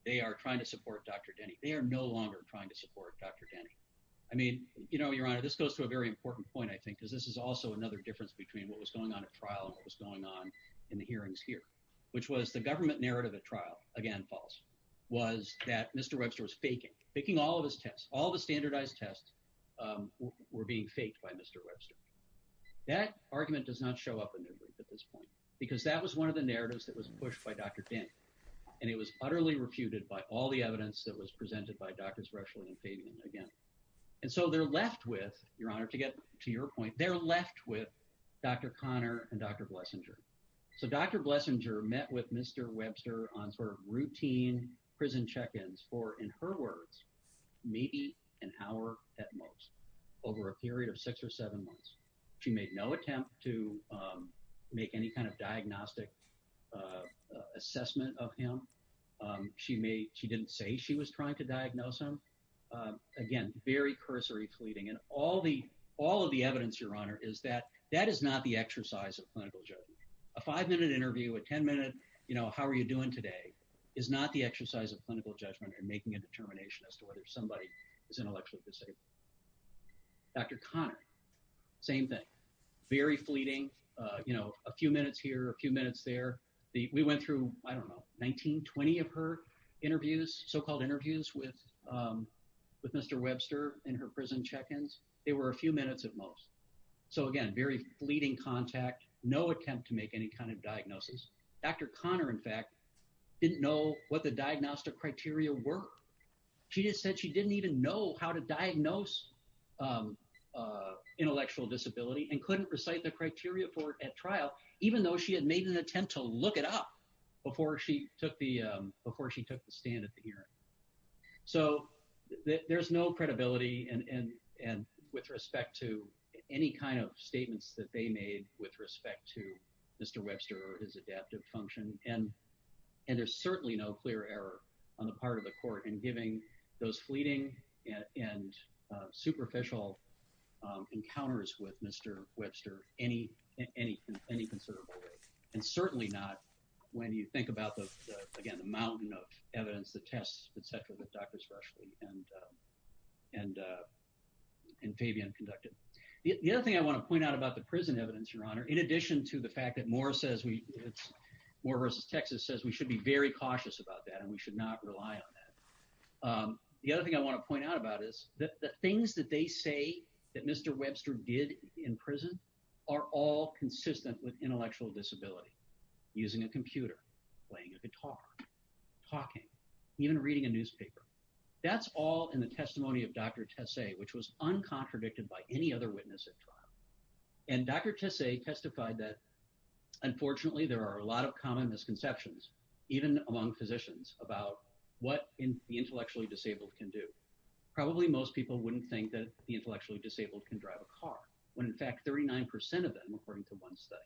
they are trying to support Dr. Denny. They are no longer trying to support Dr. Denny. I mean, you know, Your Honor, this goes to a very important point, I think, because this is also another difference between what was going on at trial and what was going on in the hearings here. Which was the government narrative at trial, again false, was that Mr. Webster was faking, faking all of his tests, all the standardized tests were being faked by Mr. Webster. That argument does not show up in their brief at this point, because that was one of the narratives that was pushed by Dr. Denny. And it was utterly refuted by all the evidence that was presented by Drs. Roeschel and Fabian again. And so they're left with, Your Honor, to get to your point, they're left with Dr. Connor and Dr. Blessinger. So Dr. Blessinger met with Mr. Webster on sort of routine prison check-ins for, in her words, maybe an hour at most over a period of six or seven months. She made no attempt to make any kind of diagnostic assessment of him. She didn't say she was trying to diagnose him. Again, very cursory fleeting. And all of the evidence, Your Honor, is that that is not the exercise of clinical judgment. A five-minute interview, a ten-minute, you know, how are you doing today, is not the exercise of clinical judgment in making a determination as to whether somebody is intellectually disabled. Dr. Connor, same thing. Very fleeting. You know, a few minutes here, a few minutes there. We went through, I don't know, 19, 20 of her interviews, so-called interviews with Mr. Webster and her prison check-ins. They were a few minutes at most. So, again, very fleeting contact, no attempt to make any kind of diagnosis. Dr. Connor, in fact, didn't know what the diagnostic criteria were. She just said she didn't even know how to diagnose intellectual disability and couldn't recite the criteria for it at trial, even though she had made an attempt to look it up before she took the stand at the hearing. So, there's no credibility with respect to any kind of statements that they made with respect to Mr. Webster or his adaptive function. And there's certainly no clear error on the part of the court in giving those fleeting and superficial encounters with Mr. Webster in any considerable way. And certainly not when you think about, again, the mountain of evidence, the tests, et cetera, with Drs. Rushley and Fabian conducted. The other thing I want to point out about the prison evidence, Your Honor, in addition to the fact that Moore versus Texas says we should be very cautious about that and we should not rely on that. The other thing I want to point out about is that the things that they say that Mr. Webster did in prison are all consistent with intellectual disability, using a computer, playing a guitar, talking, even reading a newspaper. That's all in the testimony of Dr. Tessay, which was uncontradicted by any other witness at trial. And Dr. Tessay testified that, unfortunately, there are a lot of common misconceptions, even among physicians, about what the intellectually disabled can do. Probably most people wouldn't think that the intellectually disabled can drive a car when, in fact, 39% of them, according to one study,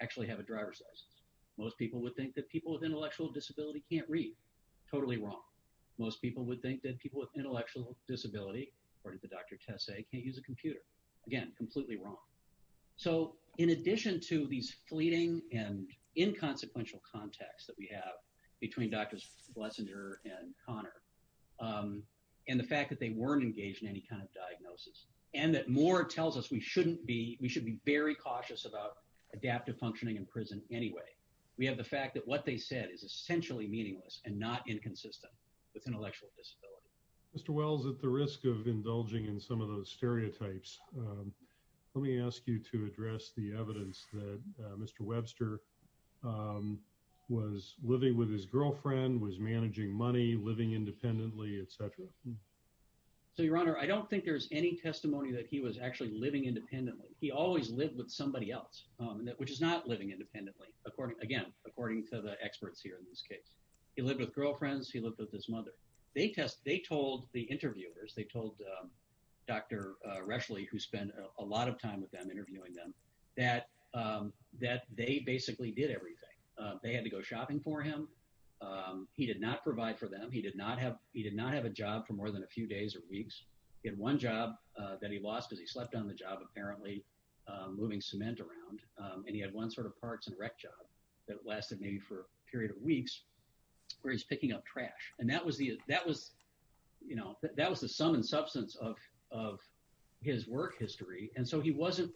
actually have a driver's license. Most people would think that people with intellectual disability can't read. Totally wrong. Most people would think that people with intellectual disability, according to Dr. Tessay, can't use a computer. Again, completely wrong. So in addition to these fleeting and inconsequential contacts that we have between Drs. Flesinger and Conner and the fact that they weren't engaged in any kind of diagnosis and that Moore tells us we should be very cautious about adaptive functioning in prison anyway, we have the fact that what they said is essentially meaningless and not inconsistent with intellectual disability. Mr. Wells, at the risk of indulging in some of those stereotypes, let me ask you to address the evidence that Mr. Webster was living with his girlfriend, was managing money, living independently, etc. So Your Honor, I don't think there's any testimony that he was actually living independently. He always lived with somebody else, which is not living independently, again, according to the experts here in this case. He lived with girlfriends. He lived with his mother. They told the interviewers, they told Dr. Reschle, who spent a lot of time with them interviewing them, that they basically did everything. They had to go shopping for him. He did not provide for them. He did not have a job for more than a few days or weeks. He had one job that he lost as he slept on the job apparently moving cement around, and he had one sort of parts and rec job that lasted maybe for a period of weeks where he's picking up trash. And that was the sum and substance of his work history. And so he wasn't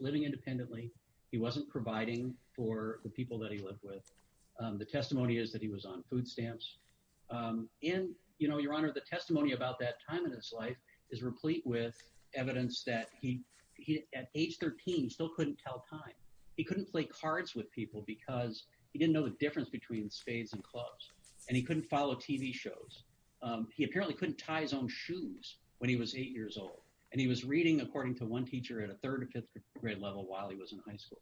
living independently. He wasn't providing for the people that he lived with. The testimony is that he was on food stamps. And Your Honor, the testimony about that time in his life is replete with evidence that he, at age 13, still couldn't tell time. He couldn't play cards with people because he didn't know the difference between spades and clubs, and he couldn't follow TV shows. He apparently couldn't tie his own shoes when he was eight years old, and he was reading, according to one teacher, at a third or fifth grade level while he was in high school.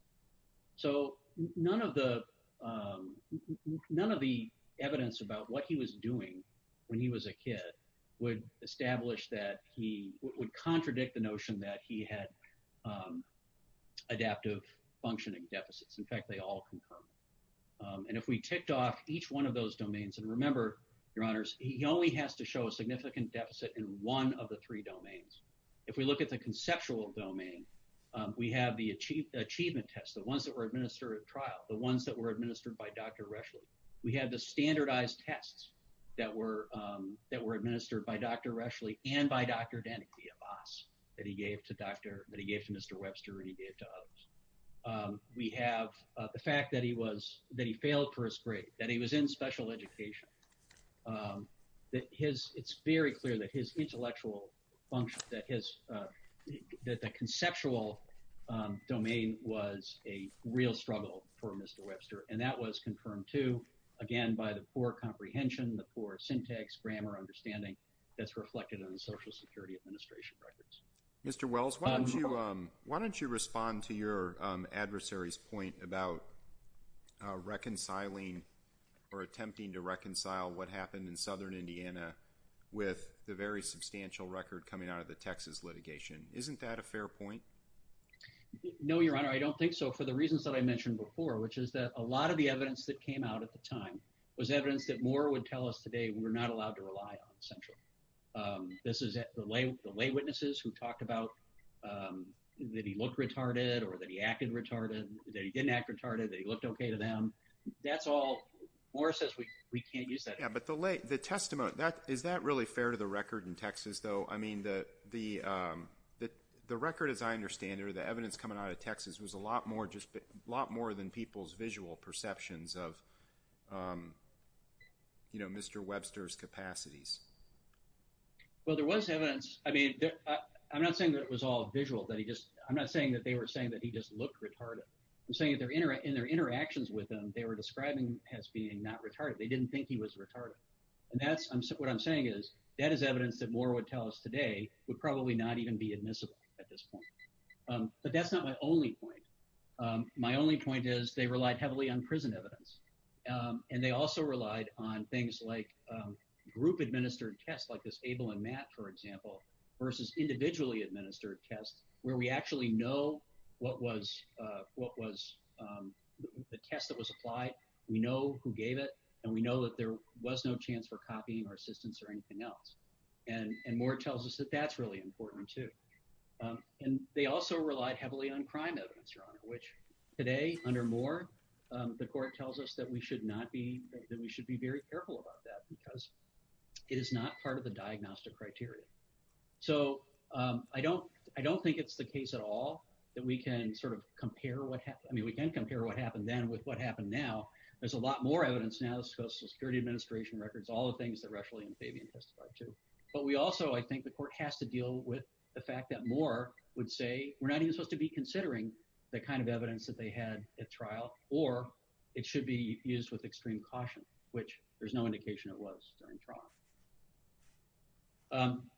So none of the evidence about what he was doing when he was a kid would establish that he – would contradict the notion that he had adaptive functioning deficits. In fact, they all concur. And if we ticked off each one of those domains – and remember, Your Honors, he only has to show a significant deficit in one of the three domains. If we look at the conceptual domain, we have the achievement tests, the ones that were administered at trial, the ones that were administered by Dr. Reschle. We have the standardized tests that were administered by Dr. Reschle and by Dr. Denny, the boss that he gave to Dr. – that he gave to Mr. Webster and he gave to others. We have the fact that he was – that he failed first grade, that he was in special education, that his – it's very clear that his intellectual function, that his – that the conceptual domain was a real struggle for Mr. Webster. And that was confirmed too, again, by the poor comprehension, the poor syntax, grammar, understanding that's reflected on the Social Security Administration records. Mr. Wells, why don't you respond to your adversary's point about reconciling or attempting to reconcile what happened in southern Indiana with the very substantial record coming out of the Texas litigation? Isn't that a fair point? No, Your Honor, I don't think so, for the reasons that I mentioned before, which is that a lot of the evidence that came out at the time was evidence that Moore would tell us today we're not allowed to rely on, essentially. This is the lay witnesses who talked about that he looked retarded or that he acted retarded, that he didn't act retarded, that he looked okay to them. That's all – Moore says we can't use that. Yeah, but the testimony, is that really fair to the record in Texas though? I mean the record, as I understand it, or the evidence coming out of Texas was a lot more than people's visual perceptions of Mr. Webster's capacities. Well, there was evidence. I mean I'm not saying that it was all visual. I'm not saying that they were saying that he just looked retarded. I'm saying in their interactions with him, they were describing him as being not retarded. They didn't think he was retarded. And that's – what I'm saying is that is evidence that Moore would tell us today would probably not even be admissible at this point. But that's not my only point. My only point is they relied heavily on prison evidence. And they also relied on things like group-administered tests like this Abel and Matt, for example, versus individually-administered tests where we actually know what was the test that was applied. We know who gave it, and we know that there was no chance for copying or assistance or anything else. And Moore tells us that that's really important too. And they also relied heavily on crime evidence, Your Honor, which today under Moore, the court tells us that we should not be – that we should be very careful about that because it is not part of the diagnostic criteria. So I don't think it's the case at all that we can sort of compare what – I mean we can compare what happened then with what happened now. There's a lot more evidence now that goes to the Security Administration records, all the things that Rushley and Fabian testified to. But we also – I think the court has to deal with the fact that Moore would say we're not even supposed to be considering the kind of evidence that they had at trial, or it should be used with extreme caution, which there's no indication it was during trial.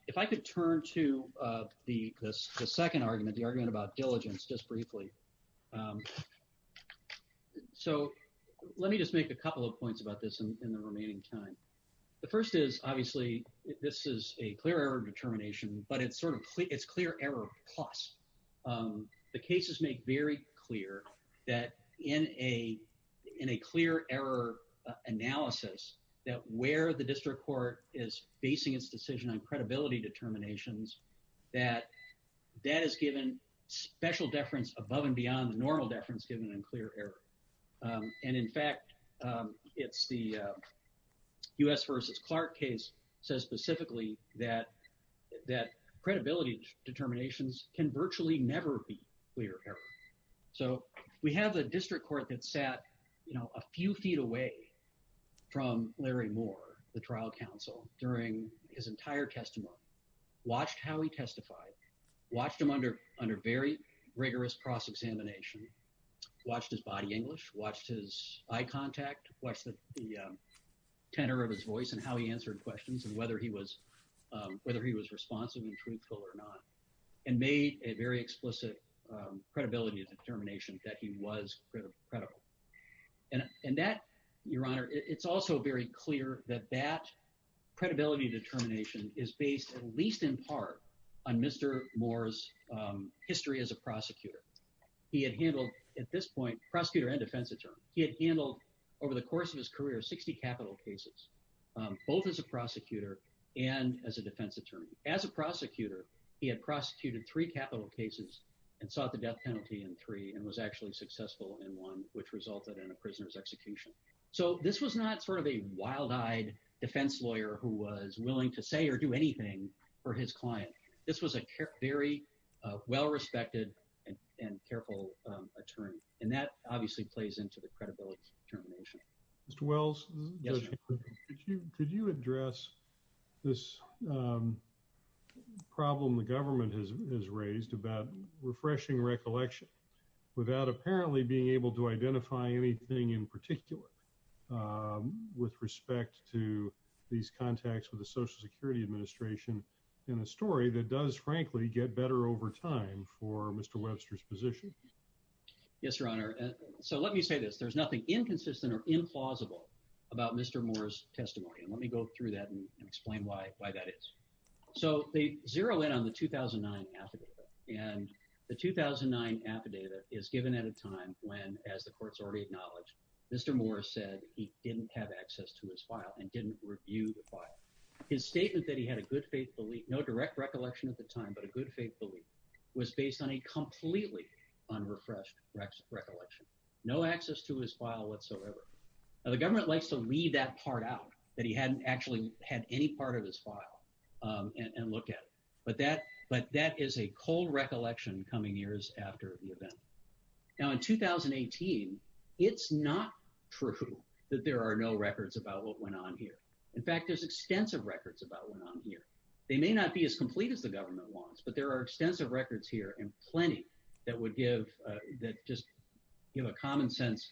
If I could turn to the second argument, the argument about diligence just briefly. So let me just make a couple of points about this in the remaining time. The first is obviously this is a clear error determination, but it's sort of – it's clear error of cost. The cases make very clear that in a clear error analysis that where the district court is basing its decision on credibility determinations that that is given special deference above and beyond the normal deference given in clear error. And in fact, it's the U.S. v. Clark case says specifically that credibility determinations can virtually never be clear error. So we have a district court that sat a few feet away from Larry Moore, the trial counsel, during his entire testimony, watched how he testified, watched him under very rigorous cross-examination, watched his body English, watched his eye contact, watched the tenor of his voice and how he answered questions and whether he was responsive and truthful or not, and made a very explicit credibility determination that he was credible. And that, Your Honor, it's also very clear that that credibility determination is based at least in part on Mr. Moore's history as a prosecutor. He had handled at this point prosecutor and defense attorney. He had handled over the course of his career 60 capital cases, both as a prosecutor and as a defense attorney. As a prosecutor, he had prosecuted three capital cases and sought the death penalty in three and was actually successful in one, which resulted in a prisoner's execution. So this was not sort of a wild-eyed defense lawyer who was willing to say or do anything for his client. This was a very well-respected and careful attorney. And that obviously plays into the credibility determination. Mr. Wells, could you address this problem the government has raised about refreshing recollection without apparently being able to identify anything in particular with respect to these contacts with the Social Security Administration in a story that does, frankly, get better over time for Mr. Loebster's position? Yes, Your Honor. So let me say this. There's nothing inconsistent or implausible about Mr. Moore's testimony, and let me go through that and explain why that is. So they zero in on the 2009 affidavit, and the 2009 affidavit is given at a time when, as the court has already acknowledged, Mr. Moore said he didn't have access to his file and didn't review the file. His statement that he had a good faith belief – no direct recollection at the time, but a good faith belief – was based on a completely unrefreshed recollection, no access to his file whatsoever. Now, the government likes to leave that part out, that he hadn't actually had any part of his file, and look at it. But that is a cold recollection coming years after the event. Now, in 2018, it's not true that there are no records about what went on here. In fact, there's extensive records about what went on here. They may not be as complete as the government wants, but there are extensive records here and plenty that would give – that just give a common-sense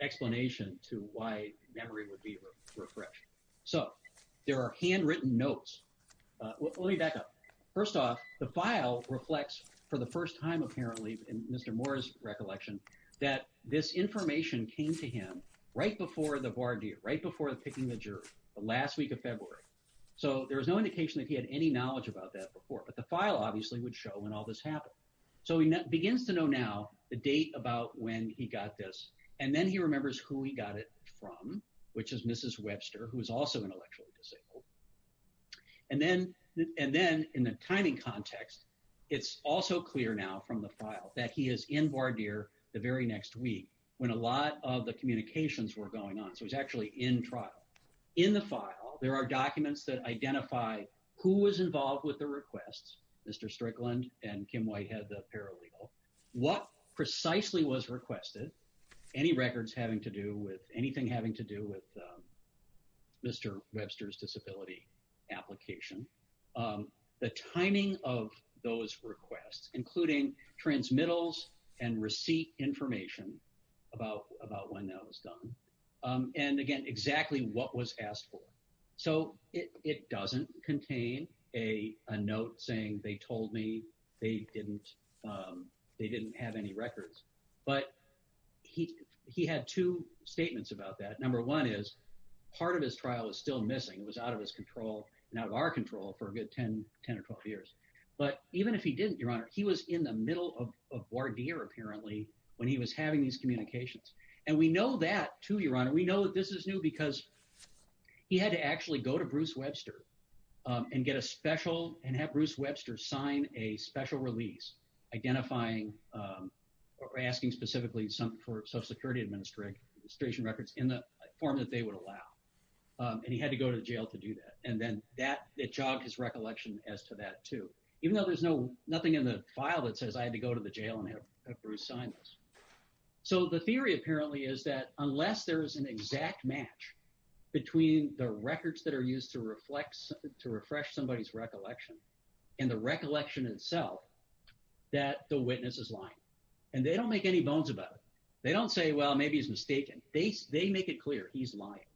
explanation to why memory would be refreshed. So there are handwritten notes. Let me back up. First off, the file reflects, for the first time apparently in Mr. Moore's recollection, that this information came to him right before the voir dire, right before the picking of the jury, the last week of February. So there's no indication that he had any knowledge about that before, but the file obviously would show when all this happened. So he begins to know now the date about when he got this, and then he remembers who he got it from, which is Mrs. Webster, who is also intellectually disabled. And then in the timing context, it's also clear now from the file that he is in voir dire the very next week when a lot of the communications were going on. So he's actually in trial. In the file, there are documents that identify who was involved with the requests, Mr. Strickland and Kim Whitehead, the paralegal, what precisely was requested, any records having to do with anything having to do with Mr. Webster's disability application, the timing of those requests, including transmittals and receipt information about when that was done, and again, exactly what was asked for. So it doesn't contain a note saying they told me they didn't have any records. But he had two statements about that. Number one is part of his trial is still missing. It was out of his control and out of our control for a good 10 or 12 years. But even if he didn't, Your Honor, he was in the middle of voir dire apparently when he was having these communications. And we know that too, Your Honor. We know that this is new because he had to actually go to Bruce Webster and get a special – and have Bruce Webster sign a special release identifying or asking specifically for Social Security Administration records in the form that they would allow. And he had to go to jail to do that, and then that jogged his recollection as to that too, even though there's no – nothing in the file that says I had to go to the jail and have Bruce sign this. So the theory apparently is that unless there is an exact match between the records that are used to reflect – to refresh somebody's recollection and the recollection itself, that the witness is lying. And they don't make any bones about it. They don't say, well, maybe he's mistaken. They make it clear he's lying,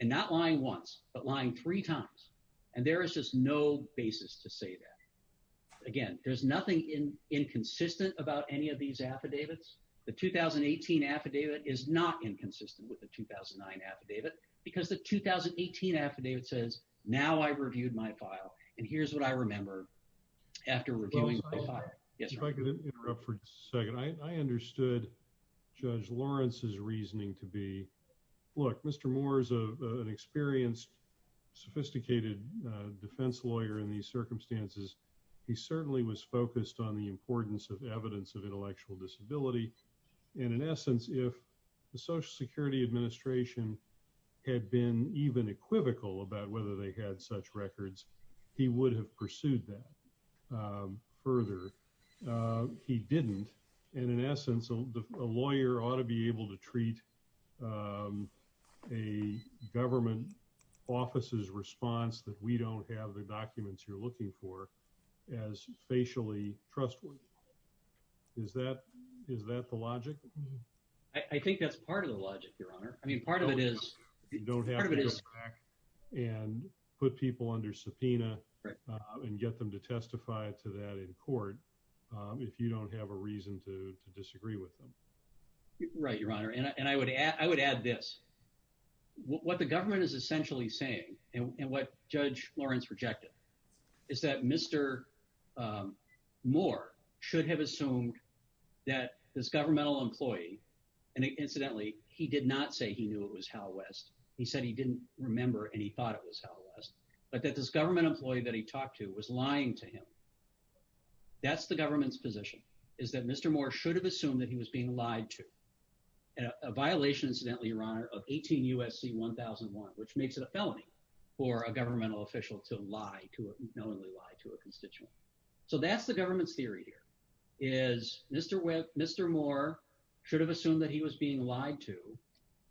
and not lying once but lying three times. And there is just no basis to say that. Again, there's nothing inconsistent about any of these affidavits. The 2018 affidavit is not inconsistent with the 2009 affidavit because the 2018 affidavit says now I've reviewed my file, and here's what I remember after reviewing my file. If I could interrupt for a second. I understood Judge Lawrence's reasoning to be, look, Mr. Moore is an experienced, sophisticated defense lawyer in these circumstances. He certainly was focused on the importance of evidence of intellectual disability. And in essence, if the Social Security Administration had been even equivocal about whether they had such records, he would have pursued that further. He didn't. And in essence, a lawyer ought to be able to treat a government office's response that we don't have the documents you're looking for as facially trustworthy. Is that the logic? I think that's part of the logic, Your Honor. I mean, part of it is you don't have to go back and put people under subpoena and get them to testify to that in court if you don't have a reason to disagree with them. Right, Your Honor. And I would add this. What the government is essentially saying and what Judge Lawrence rejected is that Mr. Moore should have assumed that this governmental employee, and incidentally, he did not say he knew it was Hal West. He said he didn't remember and he thought it was Hal West, but that this government employee that he talked to was lying to him. That's the government's position, is that Mr. Moore should have assumed that he was being lied to. A violation, incidentally, Your Honor, of 18 U.S.C. 1001, which makes it a felony for a governmental official to knowingly lie to a constituent. So that's the government's theory here, is Mr. Moore should have assumed that he was being lied to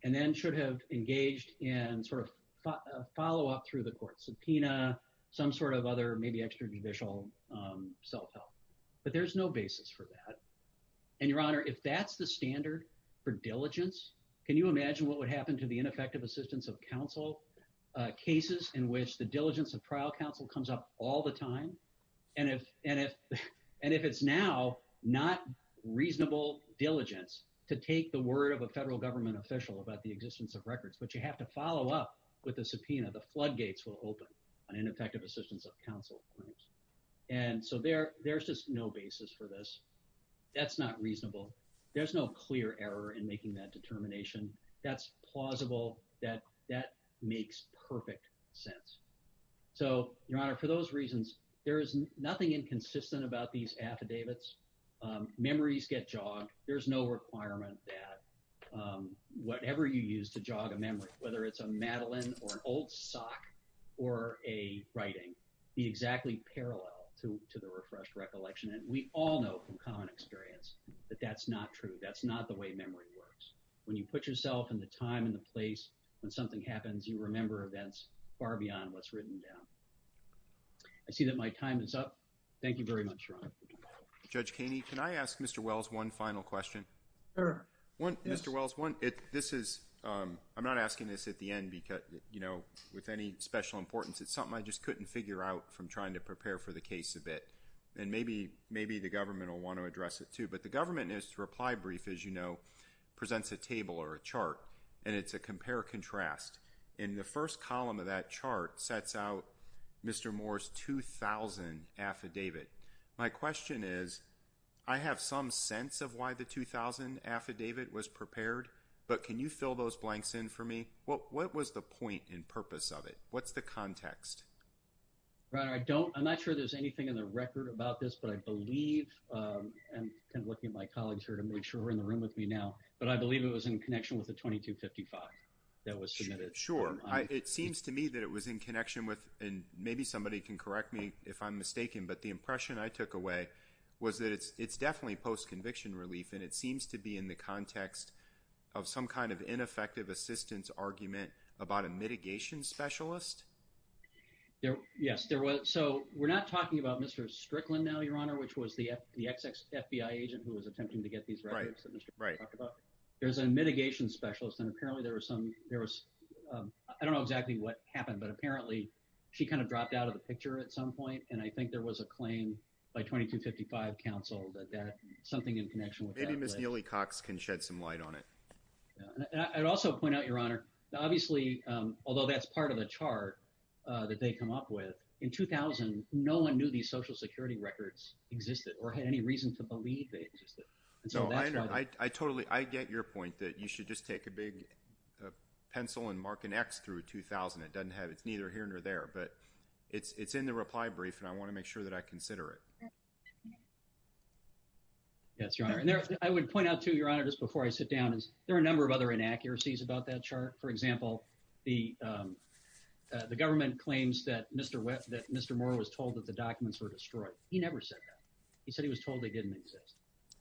and then should have engaged in sort of follow-up through the court subpoena, some sort of other maybe extrajudicial self-help. But there's no basis for that. And Your Honor, if that's the standard for diligence, can you imagine what would happen to the ineffective assistance of counsel cases in which the diligence of trial counsel comes up all the time? And if it's now not reasonable diligence to take the word of a federal government official about the existence of records, but you have to follow up with a subpoena, the floodgates will open on ineffective assistance of counsel. And so there's just no basis for this. That's not reasonable. There's no clear error in making that determination. That's plausible. That makes perfect sense. So, Your Honor, for those reasons, there is nothing inconsistent about these affidavits. Memories get jogged. There's no requirement that whatever you use to jog a memory, whether it's a Madeline or an old sock or a writing, be exactly parallel to the refreshed recollection. And we all know from common experience that that's not true. That's not the way memory works. When you put yourself in the time and the place when something happens, you remember events far beyond what's written down. I see that my time is up. Thank you very much, Your Honor. Judge Kaney, can I ask Mr. Wells one final question? Sure. Mr. Wells, I'm not asking this at the end because, you know, with any special importance, it's something I just couldn't figure out from trying to prepare for the case a bit. And maybe the government will want to address it, too. But the government is to reply brief, as you know, presents a table or a chart, and it's a compare-contrast. And the first column of that chart sets out Mr. Moore's 2000 affidavit. My question is, I have some sense of why the 2000 affidavit was prepared, but can you fill those blanks in for me? What was the point and purpose of it? What's the context? Well, I don't – I'm not sure there's anything in the record about this, but I believe – and I'm looking at my colleagues here to make sure we're in the room with me now. But I believe it was in connection with the 2255 that was submitted. Sure. It seems to me that it was in connection with – and maybe somebody can correct me if I'm mistaken. But the impression I took away was that it's definitely post-conviction relief, and it seems to be in the context of some kind of ineffective assistance argument about a mitigation specialist. Yes, there was. So we're not talking about Mr. Strickland now, Your Honor, which was the ex-FBI agent who was attempting to get these records that we should talk about. There's a mitigation specialist, and apparently there was some – I don't know exactly what happened, but apparently she kind of dropped out of the picture at some point. And I think there was a claim by 2255 counsel that that – something in connection with that. Maybe Ms. Neely-Cox can shed some light on it. I'd also point out, Your Honor, that obviously, although that's part of the chart that they come up with, in 2000, no one knew these Social Security records existed or had any reason to believe they existed until that time. I totally – I get your point that you should just take a big pencil and mark an X through 2000. It doesn't have – it's neither here nor there, but it's in the reply brief, and I want to make sure that I consider it. That's right. And I would point out too, Your Honor, just before I sit down, is there are a number of other inaccuracies about that chart. For example, the government claims that Mr. Moore was told that the documents were destroyed. He never said that. He said he was told they didn't exist.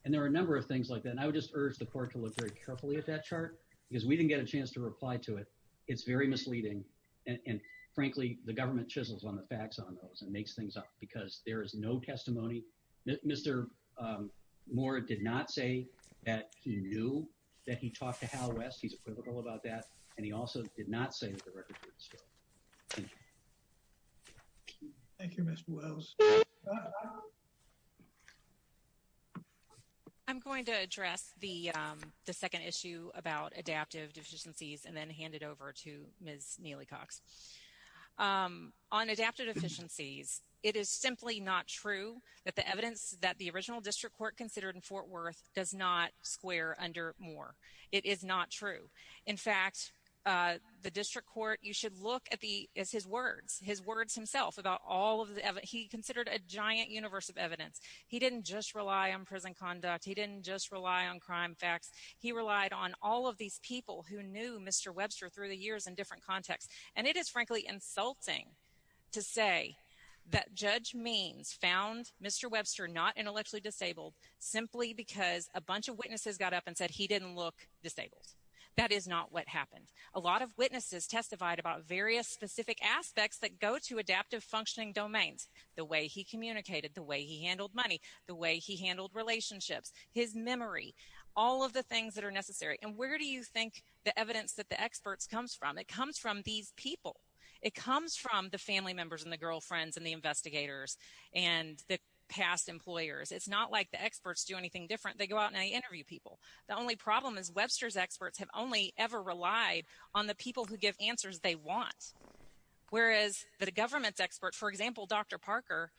And there are a number of things like that, and I would just urge the court to look very carefully at that chart because we didn't get a chance to reply to it. It's very misleading, and frankly, the government chisels on the facts on those and makes things up because there is no testimony. Mr. Moore did not say that he knew that he talked to Hal West. He's equivocal about that, and he also did not say that the records were destroyed. Thank you. Thank you, Ms. Wells. I'm going to address the second issue about adaptive deficiencies and then hand it over to Ms. Neely-Cox. On adaptive deficiencies, it is simply not true that the evidence that the original district court considered in Fort Worth does not square under Moore. It is not true. In fact, the district court, you should look at his words, his words himself about all of the evidence. He considered a giant universe of evidence. He didn't just rely on prison conduct. He didn't just rely on crime facts. He relied on all of these people who knew Mr. Webster through the years in different contexts. And it is, frankly, insulting to say that Judge Means found Mr. Webster not intellectually disabled simply because a bunch of witnesses got up and said he didn't look disabled. That is not what happened. A lot of witnesses testified about various specific aspects that go to adaptive functioning domains, the way he communicated, the way he handled money, the way he handled relationships, his memory, all of the things that are necessary. And where do you think the evidence that the experts comes from? It comes from these people. It comes from the family members and the girlfriends and the investigators and the past employers. It's not like the experts do anything different. They go out and they interview people. The only problem is Webster's experts have only ever relied on the people who give answers they want, whereas the government's experts, for example, Dr. Parker,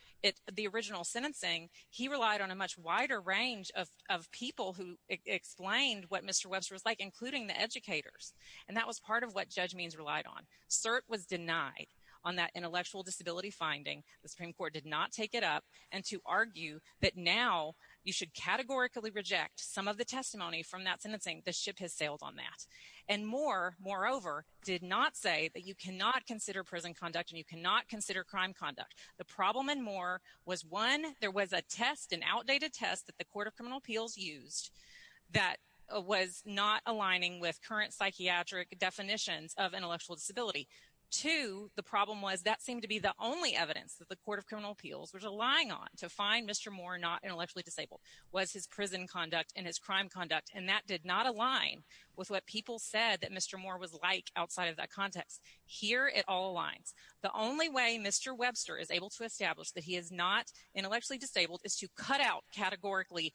the original sentencing, he relied on a much wider range of people who explained what Mr. Webster was like, including the educators. And that was part of what Judge Means relied on. CERT was denied on that intellectual disability finding. The Supreme Court did not take it up. And to argue that now you should categorically reject some of the testimony from that sentencing, the ship has sailed on that. And Moore, moreover, did not say that you cannot consider prison conduct and you cannot consider crime conduct. The problem in Moore was, one, there was a test, an outdated test that the Court of Criminal Appeals used that was not aligning with current psychiatric definitions of intellectual disability. Two, the problem was that seemed to be the only evidence that the Court of Criminal Appeals was relying on to find Mr. Moore not intellectually disabled was his prison conduct and his crime conduct. And that did not align with what people said that Mr. Moore was like outside of that context. Here it all aligns. The only way Mr. Webster is able to establish that he is not intellectually disabled is to cut out categorically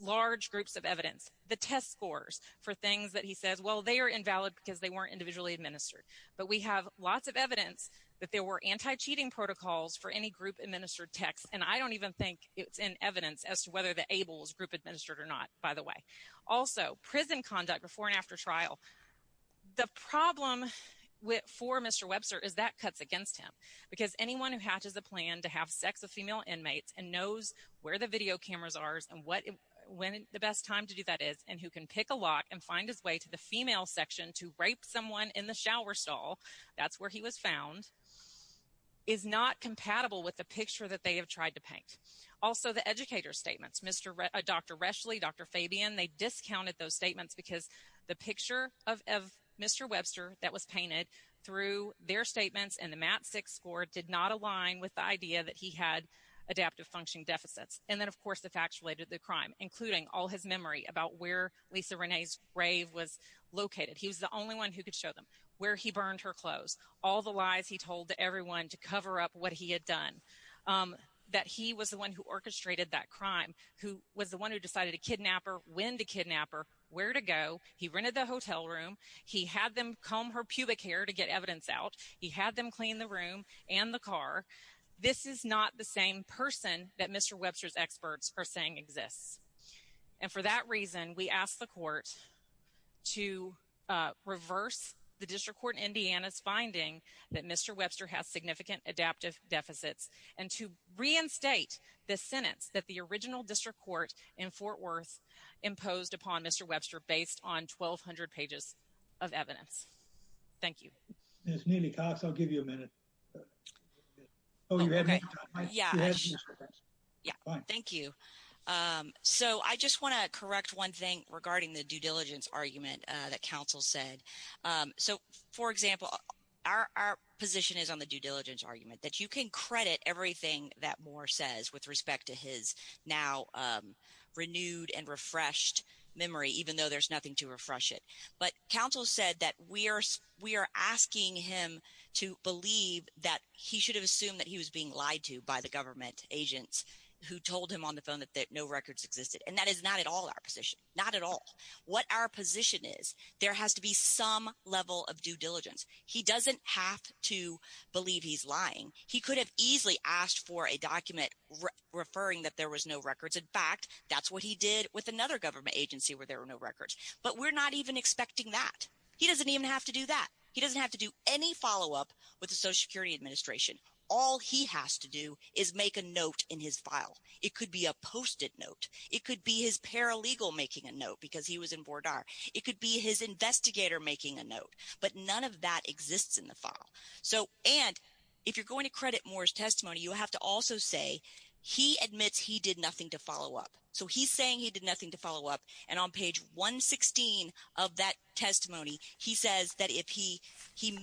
large groups of evidence, the test scores for things that he said, well, they are invalid because they weren't individually administered. But we have lots of evidence that there were anti-cheating protocols for any group-administered texts, and I don't even think it's in evidence as to whether the ABLE was group-administered or not, by the way. Also, prison conduct before and after trial. The problem for Mr. Webster is that cuts against him because anyone who hatches a plan to have sex with female inmates and knows where the video cameras are and when the best time to do that is, and who can pick a lock and find his way to the female section to rape someone in the shower stall, that's where he was found, is not compatible with the picture that they have tried to paint. Also, the educator's statements. Dr. Reschle, Dr. Fabian, they discounted those statements because the picture of Mr. Webster that was painted through their statements and the MAT-6 score did not align with the idea that he had adaptive functioning deficits. And then, of course, the fact related to the crime, including all his memory about where Lisa Renee's grave was located. He's the only one who could show them where he burned her clothes, all the lies he told everyone to cover up what he had done. That he was the one who orchestrated that crime, who was the one who decided to kidnap her, when to kidnap her, where to go. He rented the hotel room. He had them comb her pubic hair to get evidence out. He had them clean the room and the car. This is not the same person that Mr. Webster's experts are saying exists. And for that reason, we ask the court to reverse the district court in Indiana's finding that Mr. Webster has significant adaptive deficits. And to reinstate the sentence that the original district court in Fort Worth imposed upon Mr. Webster based on 1,200 pages of evidence. Thank you. Ms. Mealy-Cox, I'll give you a minute. Thank you. So I just want to correct one thing regarding the due diligence argument that counsel said. So, for example, our position is on the due diligence argument, that you can credit everything that Moore says with respect to his now renewed and refreshed memory, even though there's nothing to refresh it. But counsel said that we are asking him to believe that he should have assumed that he was being lied to by the government agents who told him on the phone that no records existed. And that is not at all our position, not at all. What our position is, there has to be some level of due diligence. He doesn't have to believe he's lying. He could have easily asked for a document referring that there was no records. In fact, that's what he did with another government agency where there were no records. But we're not even expecting that. He doesn't even have to do that. He doesn't have to do any follow-up with the Social Security Administration. All he has to do is make a note in his file. It could be a posted note. It could be his paralegal making a note because he was in board R. It could be his investigator making a note. But none of that exists in the file. And if you're going to credit Moore's testimony, you have to also say he admits he did nothing to follow up. So he's saying he did nothing to follow up, and on page 116 of that testimony, he says that he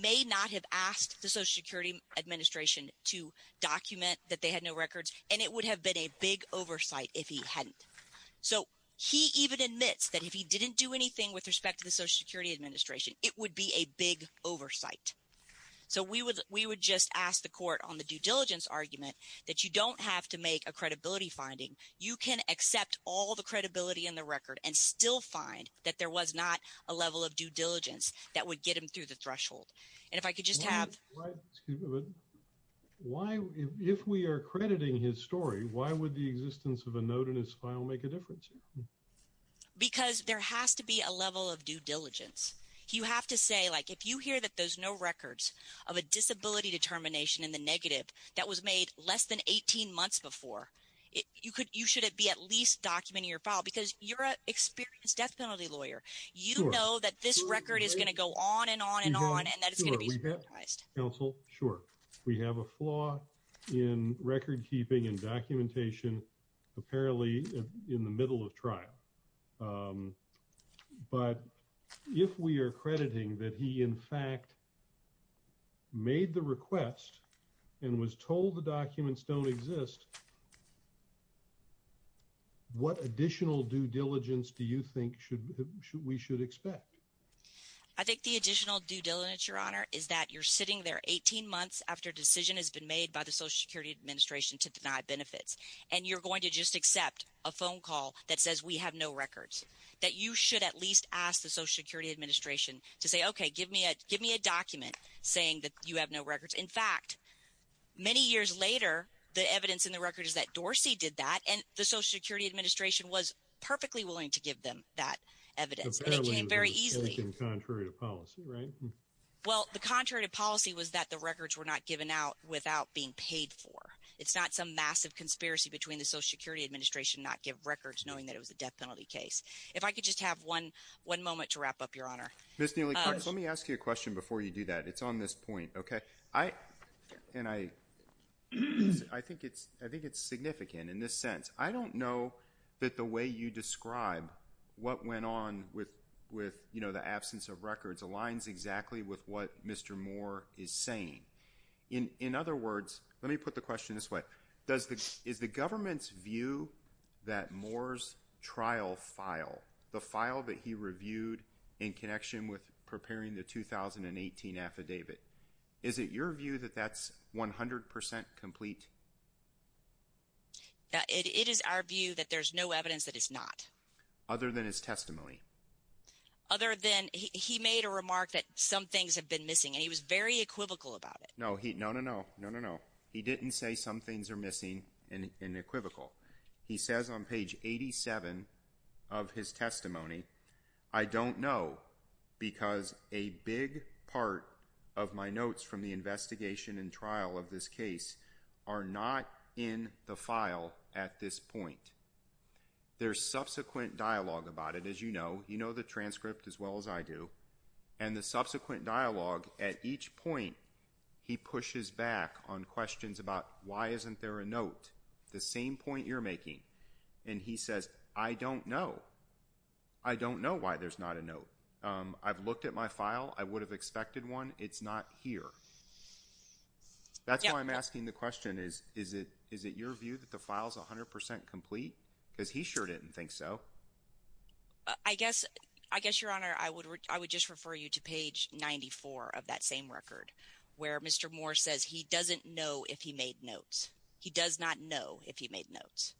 may not have asked the Social Security Administration to document that they had no records, and it would have been a big oversight if he hadn't. So he even admits that if he didn't do anything with respect to the Social Security Administration, it would be a big oversight. So we would just ask the court on the due diligence argument that you don't have to make a credibility finding. You can accept all the credibility in the record and still find that there was not a level of due diligence that would get him through the threshold. And if I could just have – Why – if we are crediting his story, why would the existence of a note in his file make a difference? Because there has to be a level of due diligence. You have to say, like, if you hear that there's no records of a disability determination in the negative that was made less than 18 months before, you should be at least documenting your file, because you're a disability lawyer. You know that this record is going to go on and on and on and that it's going to be – Counsel, sure. We have a flaw in recordkeeping and documentation apparently in the middle of trial. But if we are crediting that he, in fact, made the request and was told the documents don't exist, what additional due diligence do you think we should expect? I think the additional due diligence, Your Honor, is that you're sitting there 18 months after a decision has been made by the Social Security Administration to deny benefits, and you're going to just accept a phone call that says we have no records, that you should at least ask the Social Security Administration to say, okay, give me a document, saying that you have no records. In fact, many years later, the evidence in the record is that Dorsey did that, and the Social Security Administration was perfectly willing to give them that evidence. It came very easily. But that would have been taken contrary to policy, right? Well, the contrary to policy was that the records were not given out without being paid for. It's not some massive conspiracy between the Social Security Administration not giving records knowing that it was a death penalty case. If I could just have one moment to wrap up, Your Honor. Ms. Neely, let me ask you a question before you do that. It's on this point, okay? And I think it's significant in this sense. I don't know that the way you describe what went on with the absence of records aligns exactly with what Mr. Moore is saying. In other words, let me put the question this way. Is the government's view that Moore's trial file, the file that he reviewed in connection with preparing the 2018 affidavit, is it your view that that's 100 percent complete? It is our view that there's no evidence that it's not. Other than his testimony? Other than he made a remark that some things have been missing, and he was very equivocal about it. No, no, no. He didn't say some things are missing and equivocal. He says on page 87 of his testimony, I don't know because a big part of my notes from the investigation and trial of this case are not in the file at this point. There's subsequent dialogue about it, as you know. You know the transcript as well as I do. And the subsequent dialogue at each point, he pushes back on questions about why isn't there a note, the same point you're making. And he says, I don't know. I don't know why there's not a note. I've looked at my file. I would have expected one. It's not here. That's why I'm asking the question. Is it your view that the file is 100 percent complete? Because he sure didn't think so. I guess, Your Honor, I would just refer you to page 94 of that same record where Mr. Moore says he doesn't know if he made notes. He does not know if he made notes.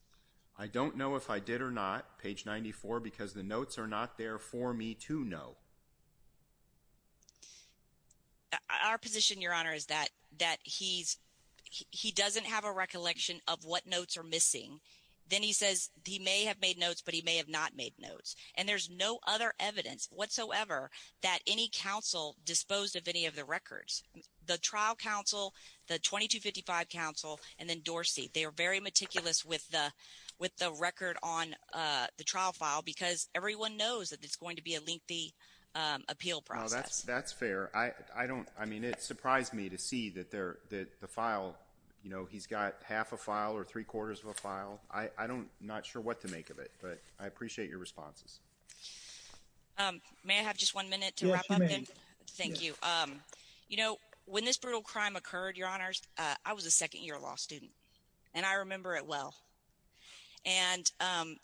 I don't know if I did or not, page 94, because the notes are not there for me to know. Our position, Your Honor, is that he doesn't have a recollection of what notes are missing. Then he says he may have made notes, but he may have not made notes. And there's no other evidence whatsoever that any counsel disposed of any of the records. The trial counsel, the 2255 counsel, and then Dorsey, they were very meticulous with the record on the trial file because everyone knows that it's going to be a lengthy appeal process. That's fair. I mean, it surprised me to see that the file, you know, he's got half a file or three-quarters of a file. I'm not sure what to make of it, but I appreciate your responses. May I have just one minute to wrap up? Yes, you may. Thank you. You know, when this brutal crime occurred, Your Honors, I was a second-year law student, and I remember it well. And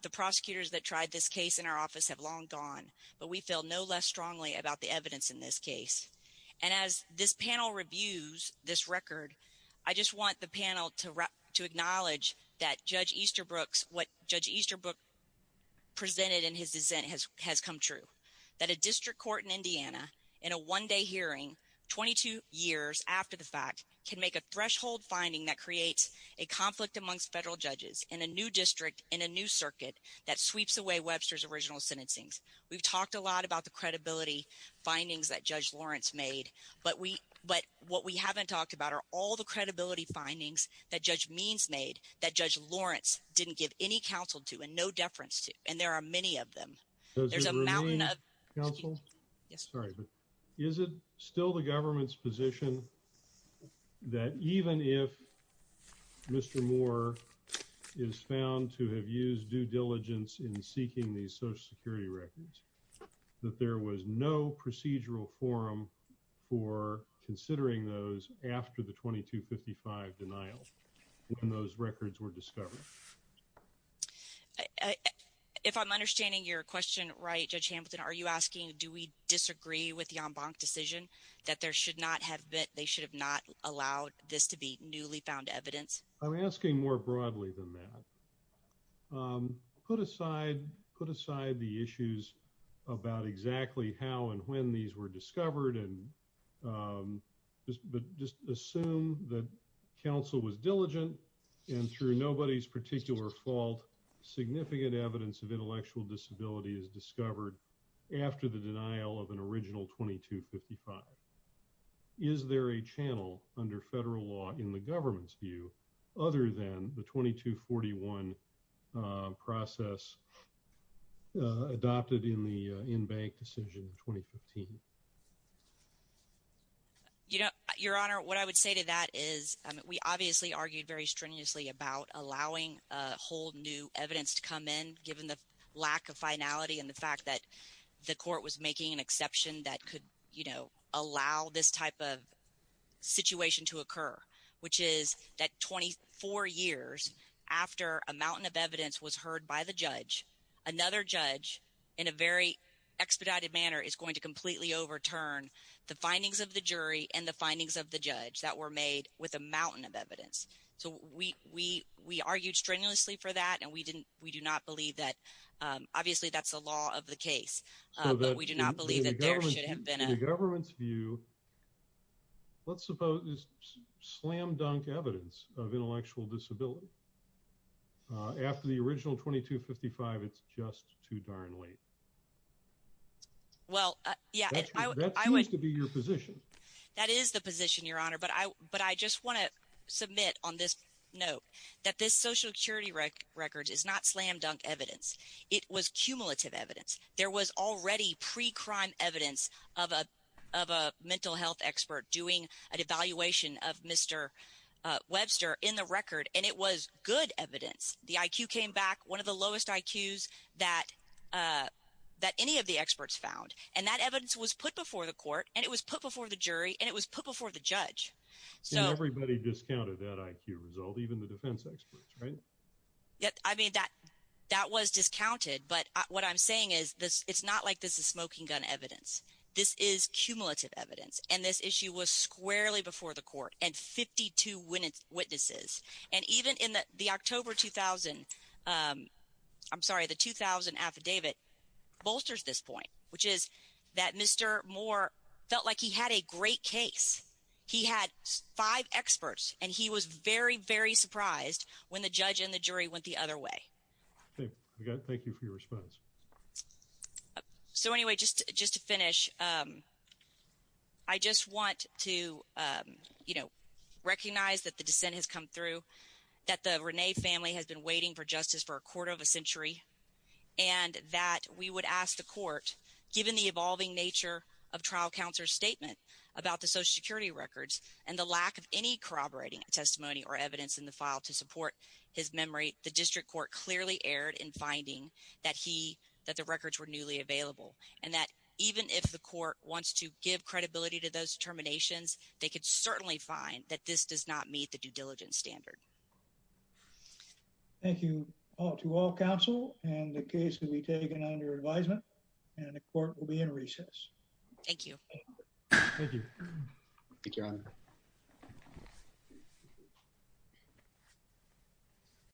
the prosecutors that tried this case in our office have long gone, but we feel no less strongly about the evidence in this case. And as this panel reviews this record, I just want the panel to acknowledge that Judge Easterbrook's, what Judge Easterbrook presented in his dissent has come true, that a district court in Indiana in a one-day hearing 22 years after the fact can make a threshold finding that creates a conflict amongst federal judges in a new district in a new circuit that sweeps away Webster's original sentencing. We've talked a lot about the credibility findings that Judge Lawrence made, but what we haven't talked about are all the credibility findings that Judge Means made that Judge Lawrence didn't give any counsel to and no deference to, and there are many of them. Is it still the government's position that even if Mr. Moore is found to have used due diligence in seeking these social security records, that there was no procedural forum for considering those after the 2255 denial when those records were discovered? If I'm understanding your question right, Judge Hampson, are you asking do we disagree with the en banc decision that there should not have been, they should have not allowed this to be newly found evidence? I'm asking more broadly than that. Put aside the issues about exactly how and when these were discovered and just assume that counsel was diligent and through nobody's particular fault, significant evidence of intellectual disability is discovered after the denial of an original 2255. Is there a channel under federal law in the government's view other than the 2241 process adopted in the en banc decision in 2015? Your Honor, what I would say to that is we obviously argued very strenuously about allowing a whole new evidence to come in given the lack of finality and the fact that the court was making an exception that could allow this type of situation to occur, which is that 24 years after a mountain of evidence was heard by the judge, another judge in a very expedited manner is going to completely overturn the findings of the jury and the findings of the judge that were made with a mountain of evidence. So we argued strenuously for that and we do not believe that. Obviously, that's the law of the case, but we do not believe that there should have been a In the government's view, let's suppose this slam-dunk evidence of intellectual disability after the original 2255, it's just too darn late. Well, yeah. That seems to be your position. That is the position, Your Honor, but I just want to submit on this note that this was cumulative evidence. There was already pre-crime evidence of a mental health expert doing an evaluation of Mr. Webster in the record, and it was good evidence. The IQ came back, one of the lowest IQs that any of the experts found, and that evidence was put before the court and it was put before the jury and it was put before the judge. So everybody discounted that IQ result, even the defense experts, right? I mean, that was discounted, but what I'm saying is it's not like this is smoking gun evidence. This is cumulative evidence, and this issue was squarely before the court and 52 witnesses. And even in the October 2000 – I'm sorry, the 2000 affidavit bolsters this point, which is that Mr. Moore felt like he had a great case. He had five experts, and he was very, very surprised when the judge and the jury went the other way. Okay. Thank you for your response. So anyway, just to finish, I just want to recognize that the dissent has come through, that the Rene family has been waiting for justice for a quarter of a century, and that we would ask the court, given the evolving nature of trial counsel's statement about the Social Security records and the lack of any corroborating testimony or evidence in the file to support his memory, the district court clearly erred in finding that the records were newly available, and that even if the court wants to give credibility to those determinations, they could certainly find that this does not meet the due diligence standard. Thank you to all counsel, and the case will be taken under advisement, and the court will be in recess. Thank you. Thank you. Take care, everyone.